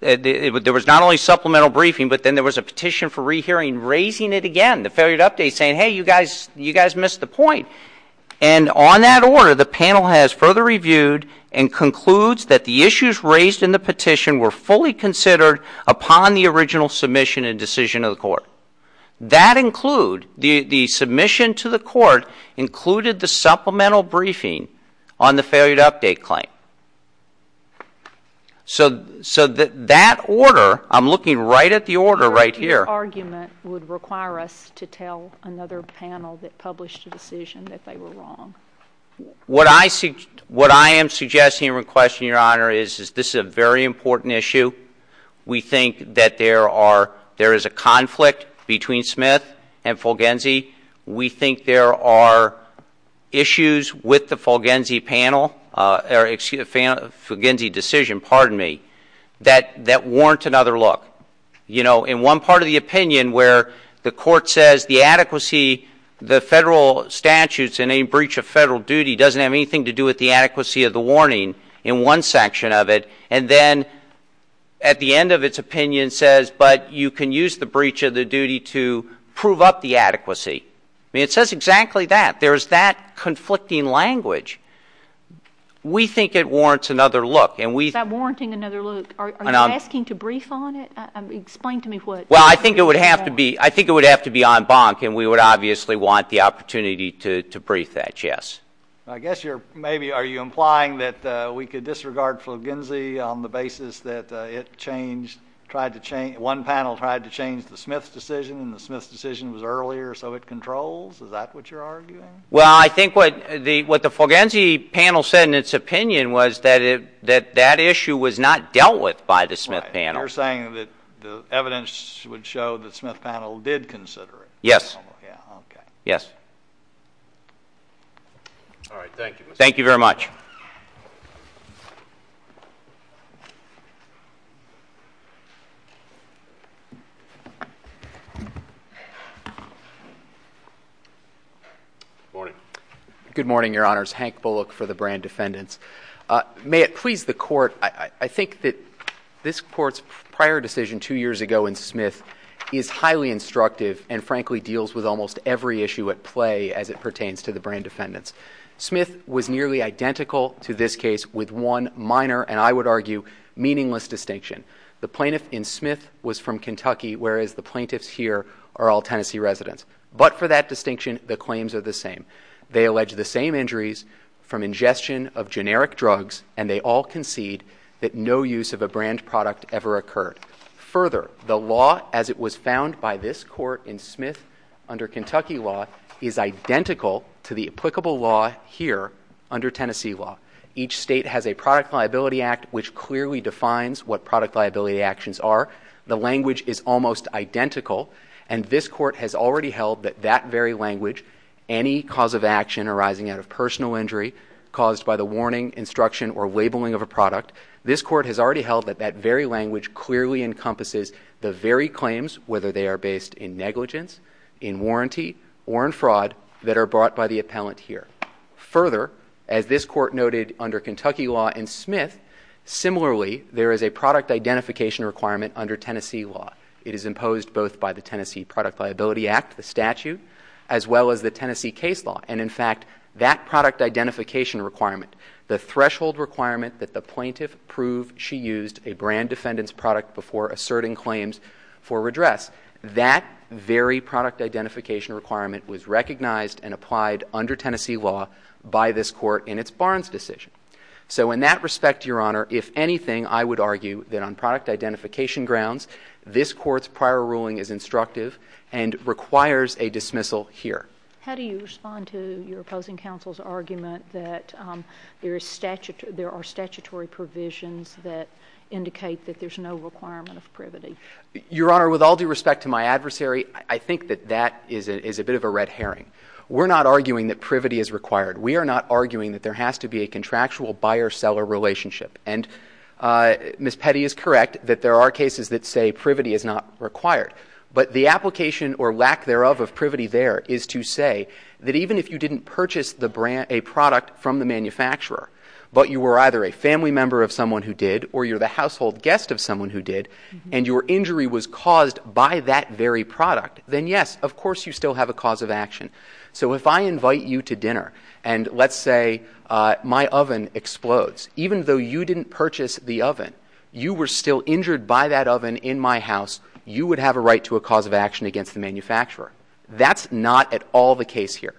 there was not only supplemental briefing, but then there was a petition for rehearing raising it again, the failure to update saying, hey, you guys missed the point. And on that order, the panel has further reviewed and concludes that the issues raised in the petition were fully considered upon the original submission and decision of the court. That include—the submission to the court included the supplemental briefing on the failure to update claim. So that order—I'm looking right at the order right here. Your argument would require us to tell another panel that published a decision that they were wrong. What I am suggesting and requesting, Your Honor, is this is a very important issue. We think that there are—there is a conflict between Smith and Fulginzi. We think there are issues with the Fulginzi panel—excuse me, Fulginzi decision, pardon me, that warrant another look. You know, in one part of the opinion where the court says the adequacy, the federal statutes in a breach of federal duty doesn't have anything to do with the adequacy of the warning in one section of it, and then at the end of its opinion says, but you can use the breach of the duty to prove up the adequacy. I mean, it says exactly that. There is that conflicting language. We think it warrants another look, and we— Is that warranting another look? Are you asking to brief on it? Explain to me what— Well, I think it would have to be—I think it would have to be en banc, and we would obviously want the opportunity to brief that, yes. I guess you're—maybe are you implying that we could disregard Fulginzi on the basis that it changed, tried to change—one panel tried to change the Smith decision, and the Smith decision was earlier, so it controls? Is that what you're arguing? Well, I think what the Fulginzi panel said in its opinion was that that issue was not dealt with by the Smith panel. Right. You're saying that the evidence would show that the Smith panel did consider it. Yes. Okay. Yes. All right. Thank you. Thank you very much. Good morning. Good morning, Your Honors. Hank Bullock for the Brand Defendants. May it please the Court, I think that this Court's prior decision two years ago in Smith is highly instructive and frankly deals with almost every issue at play as it pertains to the Brand Defendants. Smith was nearly identical to this case with one minor, and I would argue, meaningless distinction. The plaintiff in Smith was from Kentucky, whereas the plaintiffs here are all Tennessee residents. But for that distinction, the claims are the same. They allege the same injuries from ingestion of generic drugs, and they all concede that no use of a brand product ever occurred. Further, the law as it was found by this Court in Smith under Kentucky law is identical to the applicable law here under Tennessee law. Each state has a product liability act which clearly defines what product liability actions are. The language is almost identical, and this Court has already held that that very language, any cause of action arising out of personal injury caused by the warning, instruction, or labeling of a product, this Court has already held that that very language clearly encompasses the very claims, whether they are based in negligence, in warranty, or in fraud, that are brought by the appellant here. Further, as this Court noted under Kentucky law in Smith, similarly, there is a product identification requirement under Tennessee law. It is imposed both by the Tennessee Product Liability Act, the statute, as well as the Tennessee case law. And in fact, that product identification requirement, the threshold requirement that the plaintiff prove she used a brand defendant's product before asserting claims for redress, that very product identification requirement was recognized and applied under Tennessee law by this Court in its Barnes decision. So in that respect, Your Honor, if anything, I would argue that on product identification grounds, this Court's prior ruling is instructive and requires a dismissal here. How do you respond to your opposing counsel's argument that there are statutory provisions that indicate that there's no requirement of privity? Your Honor, with all due respect to my adversary, I think that that is a bit of a red herring. We're not arguing that privity is required. We are not arguing that there has to be a contractual buyer-seller relationship. And Ms. Petty is correct that there are cases that say privity is not required. But the application or lack thereof of privity there is to say that even if you didn't purchase a product from the manufacturer, but you were either a family member of someone who did or you're the household guest of someone who did, and your injury was caused by that very product, then yes, of course you still have a cause of action. So if I invite you to dinner and let's say my oven explodes, even though you didn't purchase the oven, you were still injured by that oven in my house, you would have a right to a cause of action against the manufacturer. That's not at all the case here.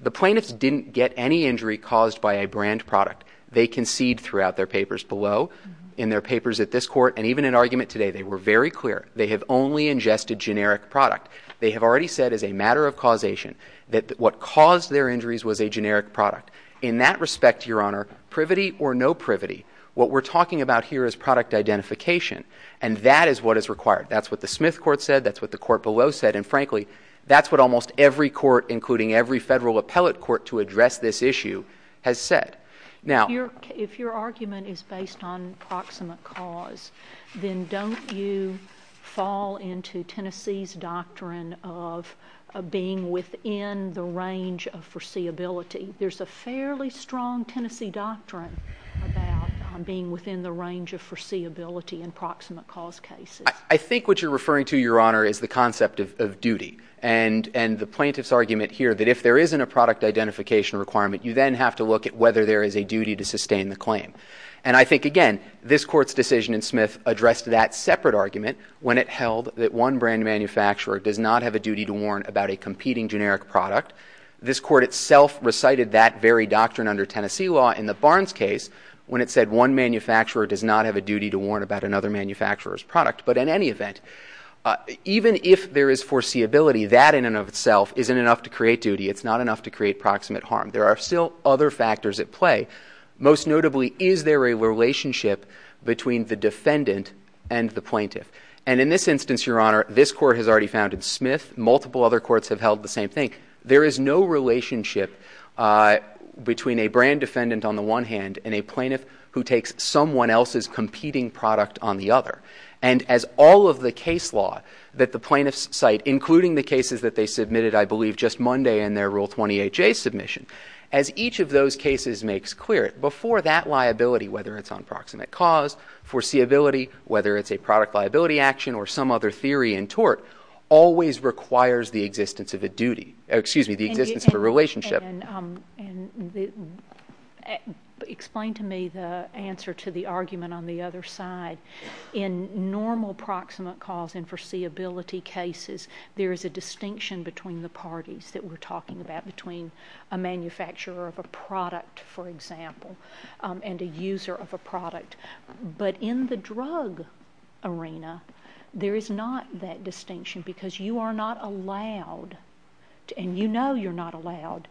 The plaintiffs didn't get any injury caused by a brand product. They concede throughout their papers below. In their papers at this court and even in argument today, they were very clear. They have only ingested generic product. They have already said as a matter of causation that what caused their injuries was a generic product. In that respect, Your Honor, privity or no privity? What we're talking about here is product identification, and that is what is required. That's what the Smith court said. That's what the court below said, and frankly, that's what almost every court, including every federal appellate court to address this issue, has said. Now, if your argument is based on proximate cause, then don't you fall into Tennessee's doctrine of being within the range of foreseeability? There's a fairly strong Tennessee doctrine about being within the range of foreseeability in proximate cause cases. I think what you're referring to, Your Honor, is the concept of duty, and the plaintiff's argument here that if there isn't a product identification requirement, you then have to look at whether there is a duty to sustain the claim. And I think, again, this court's decision in Smith addressed that separate argument when it held that one brand manufacturer does not have a duty to warn about a competing generic product. This court itself recited that very doctrine under Tennessee law in the Barnes case when it said one manufacturer does not have a duty to warn about another manufacturer's product. But in any event, even if there is foreseeability, that in and of itself isn't enough to create duty. It's not enough to create proximate harm. There are still other factors at play. Most notably, is there a relationship between the defendant and the plaintiff? And in this instance, Your Honor, this court has already founded Smith. Multiple other courts have held the same thing. There is no relationship between a brand defendant on the one hand and a plaintiff who takes someone else's competing product on the other. And as all of the case law that the plaintiffs cite, including the cases that they submitted, I believe, just Monday in their Rule 28J submission, as each of those cases makes clear, before that liability, whether it's on proximate cause, foreseeability, whether it's a product liability action or some other theory in tort, always requires the existence of a duty. Excuse me, the existence of a relationship. And explain to me the answer to the argument on the other side. In normal proximate cause and foreseeability cases, there is a distinction between the parties that we're talking about, between a manufacturer of a product, for example, and a user of a product. But in the drug arena, there is not that distinction because you are not allowed, and you know you're not allowed,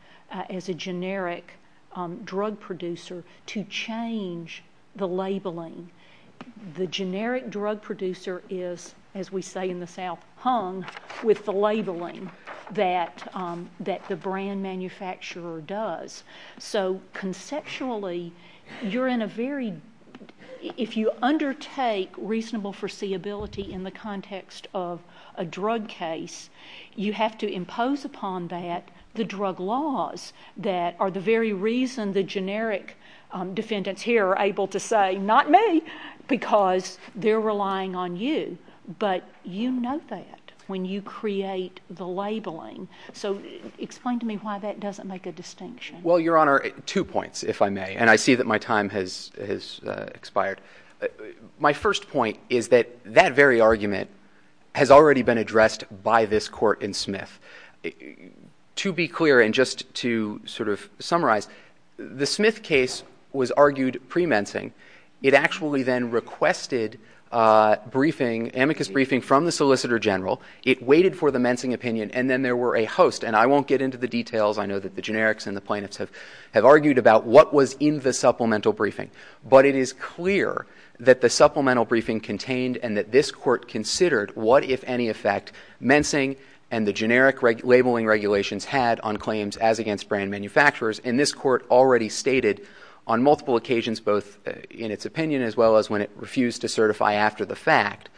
as a generic drug producer to change the labeling. The generic drug producer is, as we say in the South, hung with the labeling that the brand manufacturer does. So conceptually, if you undertake reasonable foreseeability in the context of a drug case, you have to impose upon that the drug laws that are the very reason the generic defendants here are able to say, not me, because they're relying on you. So explain to me why that doesn't make a distinction. Well, Your Honor, two points, if I may. And I see that my time has expired. My first point is that that very argument has already been addressed by this court in Smith. To be clear, and just to sort of summarize, the Smith case was argued pre-mensing. It actually then requested amicus briefing from the Solicitor General. It waited for the mensing opinion, and then there were a host. And I won't get into the details. I know that the generics and the plaintiffs have argued about what was in the supplemental briefing. But it is clear that the supplemental briefing contained and that this court considered what, if any effect, mensing and the generic labeling regulations had on claims as against brand manufacturers. And this court already stated on multiple occasions, both in its opinion as well as when it refused to certify after the fact,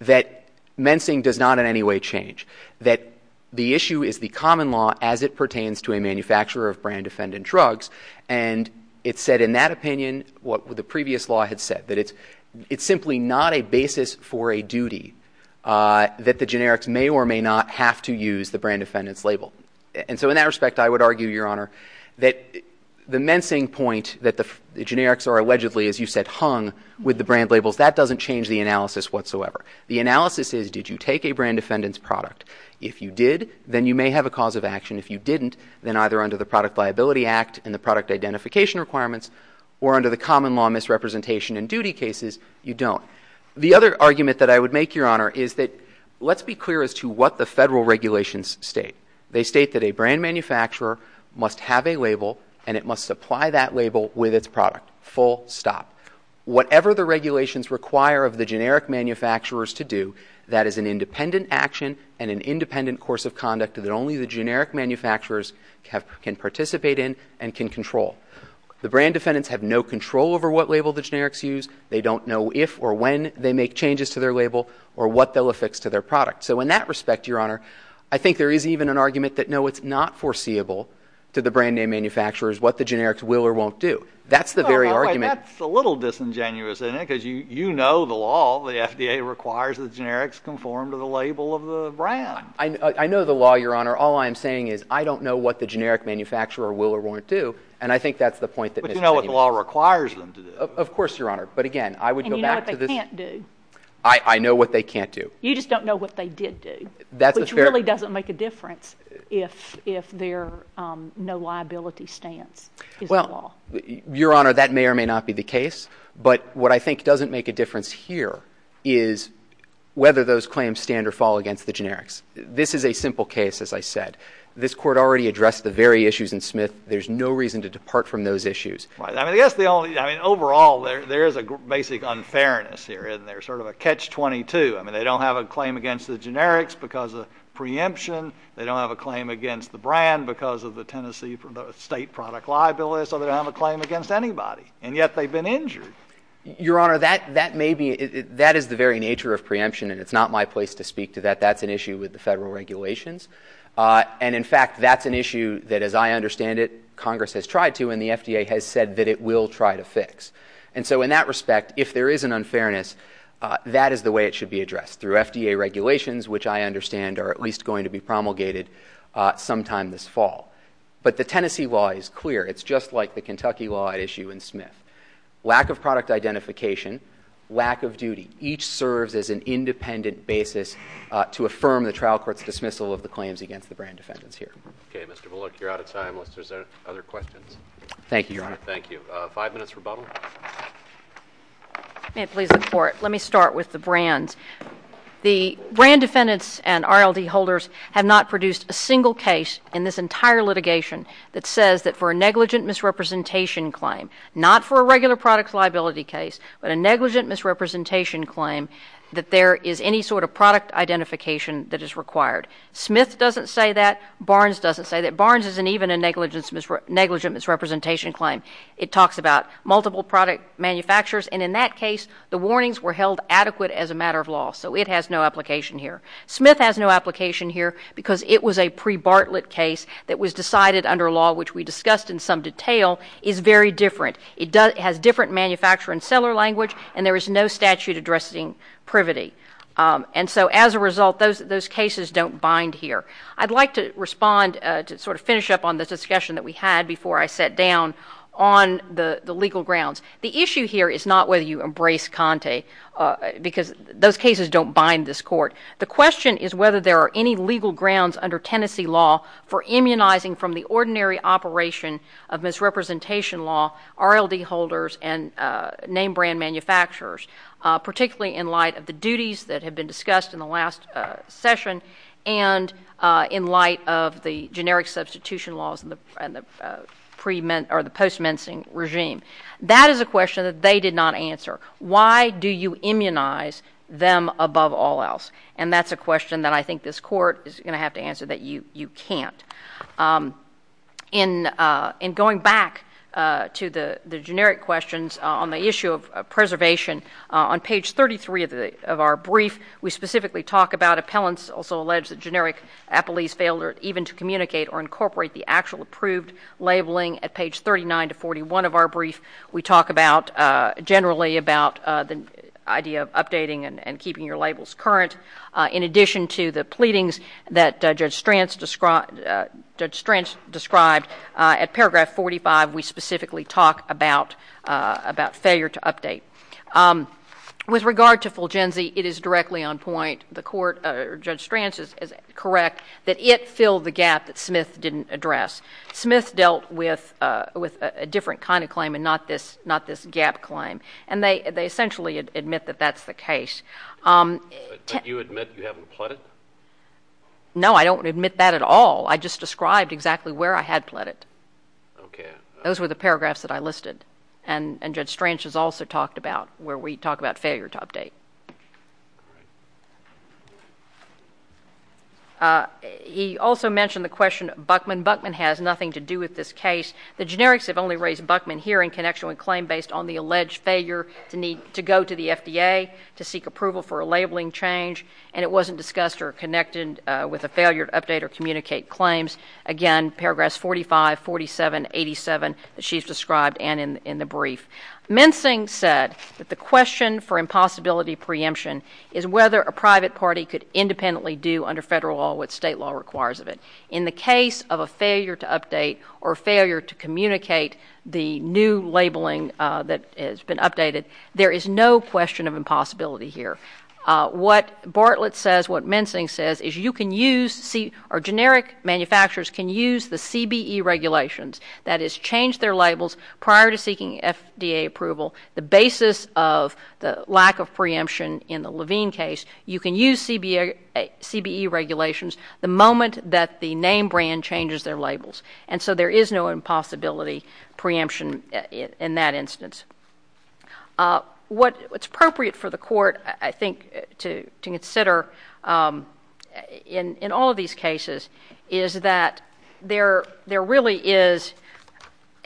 that mensing does not in any way change, that the issue is the common law as it pertains to a manufacturer of brand-defendant drugs. And it said in that opinion what the previous law had said, that it's simply not a basis for a duty that the generics may or may not have to use the brand-defendant's label. And so in that respect, I would argue, Your Honor, that the mensing point that the generics are allegedly, as you said, hung with the brand labels, that doesn't change the analysis whatsoever. The analysis is, did you take a brand-defendant's product? If you did, then you may have a cause of action. If you didn't, then either under the Product Liability Act and the product identification requirements or under the common law misrepresentation in duty cases, you don't. The other argument that I would make, Your Honor, is that let's be clear as to what the federal regulations state. They state that a brand manufacturer must have a label and it must supply that label with its product, full stop. Whatever the regulations require of the generic manufacturers to do, that is an independent action and an independent course of conduct that only the generic manufacturers can participate in and can control. The brand defendants have no control over what label the generics use. They don't know if or when they make changes to their label or what they'll affix to their product. So in that respect, Your Honor, I think there is even an argument that, no, it's not foreseeable to the brand name manufacturers what the generics will or won't do. That's the very argument. That's a little disingenuous, isn't it? Because you know the law. The FDA requires that generics conform to the label of the brand. I know the law, Your Honor. All I'm saying is I don't know what the generic manufacturer will or won't do, and I think that's the point that Ms. Tenney made. But you know what the law requires them to do. Of course, Your Honor, but again, I would go back to this. And you know what they can't do. I know what they can't do. You just don't know what they did do, which really doesn't make a difference if their no liability stance is the law. Your Honor, that may or may not be the case. But what I think doesn't make a difference here is whether those claims stand or fall against the generics. This is a simple case, as I said. This Court already addressed the very issues in Smith. There's no reason to depart from those issues. Right. I mean, overall, there is a basic unfairness here, isn't there? Sort of a catch-22. I mean, they don't have a claim against the generics because of preemption. They don't have a claim against the brand because of the Tennessee State product liability. So they don't have a claim against anybody. And yet they've been injured. Your Honor, that is the very nature of preemption, and it's not my place to speak to that. That's an issue with the federal regulations. And, in fact, that's an issue that, as I understand it, Congress has tried to and the FDA has said that it will try to fix. And so in that respect, if there is an unfairness, that is the way it should be addressed, through FDA regulations, which I understand are at least going to be promulgated sometime this fall. But the Tennessee law is clear. It's just like the Kentucky law at issue in Smith. Lack of product identification, lack of duty. Each serves as an independent basis to affirm the trial court's dismissal of the claims against the brand defendants here. Okay. Mr. Bullock, you're out of time unless there's other questions. Thank you, Your Honor. Thank you. Five minutes rebuttal. May it please the Court. Let me start with the brands. The brand defendants and RLD holders have not produced a single case in this entire litigation that says that for a negligent misrepresentation claim, not for a regular product liability case, but a negligent misrepresentation claim, that there is any sort of product identification that is required. Smith doesn't say that. Barnes doesn't say that. Barnes isn't even a negligent misrepresentation claim. It talks about multiple product manufacturers. And in that case, the warnings were held adequate as a matter of law. So it has no application here. Smith has no application here because it was a pre-Bartlett case that was decided under law, which we discussed in some detail, is very different. It has different manufacturer and seller language, and there is no statute addressing privity. And so as a result, those cases don't bind here. I'd like to respond to sort of finish up on this discussion that we had before I sat down on the legal grounds. The issue here is not whether you embrace Conte because those cases don't bind this court. The question is whether there are any legal grounds under Tennessee law for immunizing from the ordinary operation of misrepresentation law, RLD holders and name brand manufacturers, particularly in light of the duties that have been discussed in the last session and in light of the generic substitution laws and the post-mensing regime. That is a question that they did not answer. Why do you immunize them above all else? And that's a question that I think this court is going to have to answer that you can't. In going back to the generic questions on the issue of preservation, on page 33 of our brief, we specifically talk about appellants, also alleged that generic appellees fail even to communicate or incorporate the actual approved labeling. At page 39 to 41 of our brief, we talk generally about the idea of updating and keeping your labels current. In addition to the pleadings that Judge Stranz described, at paragraph 45 we specifically talk about failure to update. With regard to Fulgenzi, it is directly on point. Judge Stranz is correct that it filled the gap that Smith didn't address. Smith dealt with a different kind of claim and not this gap claim, and they essentially admit that that's the case. But you admit you haven't pled it? No, I don't admit that at all. I just described exactly where I had pled it. Okay. Those were the paragraphs that I listed, and Judge Stranz has also talked about where we talk about failure to update. He also mentioned the question of Buckman. When Buckman has nothing to do with this case, the generics have only raised Buckman here in connection with a claim based on the alleged failure to go to the FDA to seek approval for a labeling change, and it wasn't discussed or connected with a failure to update or communicate claims. Again, paragraphs 45, 47, 87 that she's described and in the brief. Mensing said that the question for impossibility preemption is whether a private party could independently do under federal law what state law requires of it. In the case of a failure to update or failure to communicate the new labeling that has been updated, there is no question of impossibility here. What Bartlett says, what Mensing says, is you can use, or generic manufacturers can use the CBE regulations, that is change their labels prior to seeking FDA approval. The basis of the lack of preemption in the Levine case, you can use CBE regulations the moment that the name brand changes their labels, and so there is no impossibility preemption in that instance. What's appropriate for the court, I think, to consider in all of these cases, is that there really is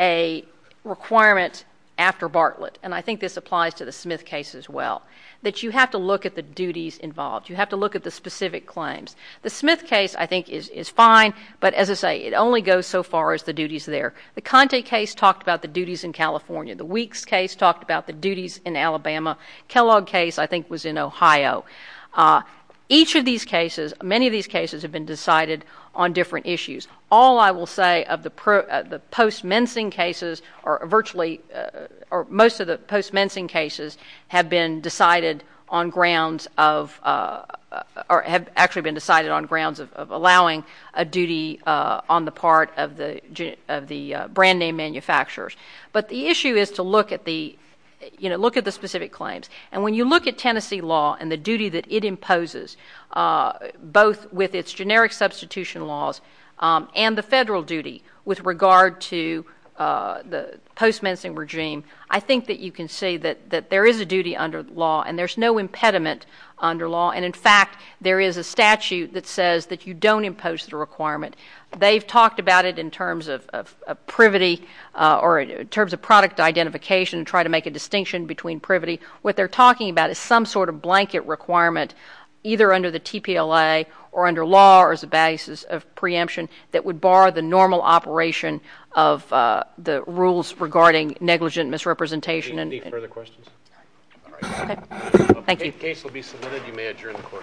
a requirement after Bartlett, and I think this applies to the Smith case as well, that you have to look at the duties involved. You have to look at the specific claims. The Smith case, I think, is fine, but as I say, it only goes so far as the duties there. The Conte case talked about the duties in California. The Weeks case talked about the duties in Alabama. Kellogg case, I think, was in Ohio. Each of these cases, many of these cases have been decided on different issues. All, I will say, of the post-Mensing cases, or virtually most of the post-Mensing cases have been decided on grounds of or have actually been decided on grounds of allowing a duty on the part of the brand name manufacturers. But the issue is to look at the specific claims, and when you look at Tennessee law and the duty that it imposes, both with its generic substitution laws and the federal duty with regard to the post-Mensing regime, I think that you can see that there is a duty under the law, and there's no impediment under law, and, in fact, there is a statute that says that you don't impose the requirement. They've talked about it in terms of privity or in terms of product identification to try to make a distinction between privity. What they're talking about is some sort of blanket requirement, either under the TPLA or under law or as a basis of preemption, that would bar the normal operation of the rules regarding negligent misrepresentation. Any further questions? All right. Okay. Thank you. The case will be submitted. You may adjourn the court.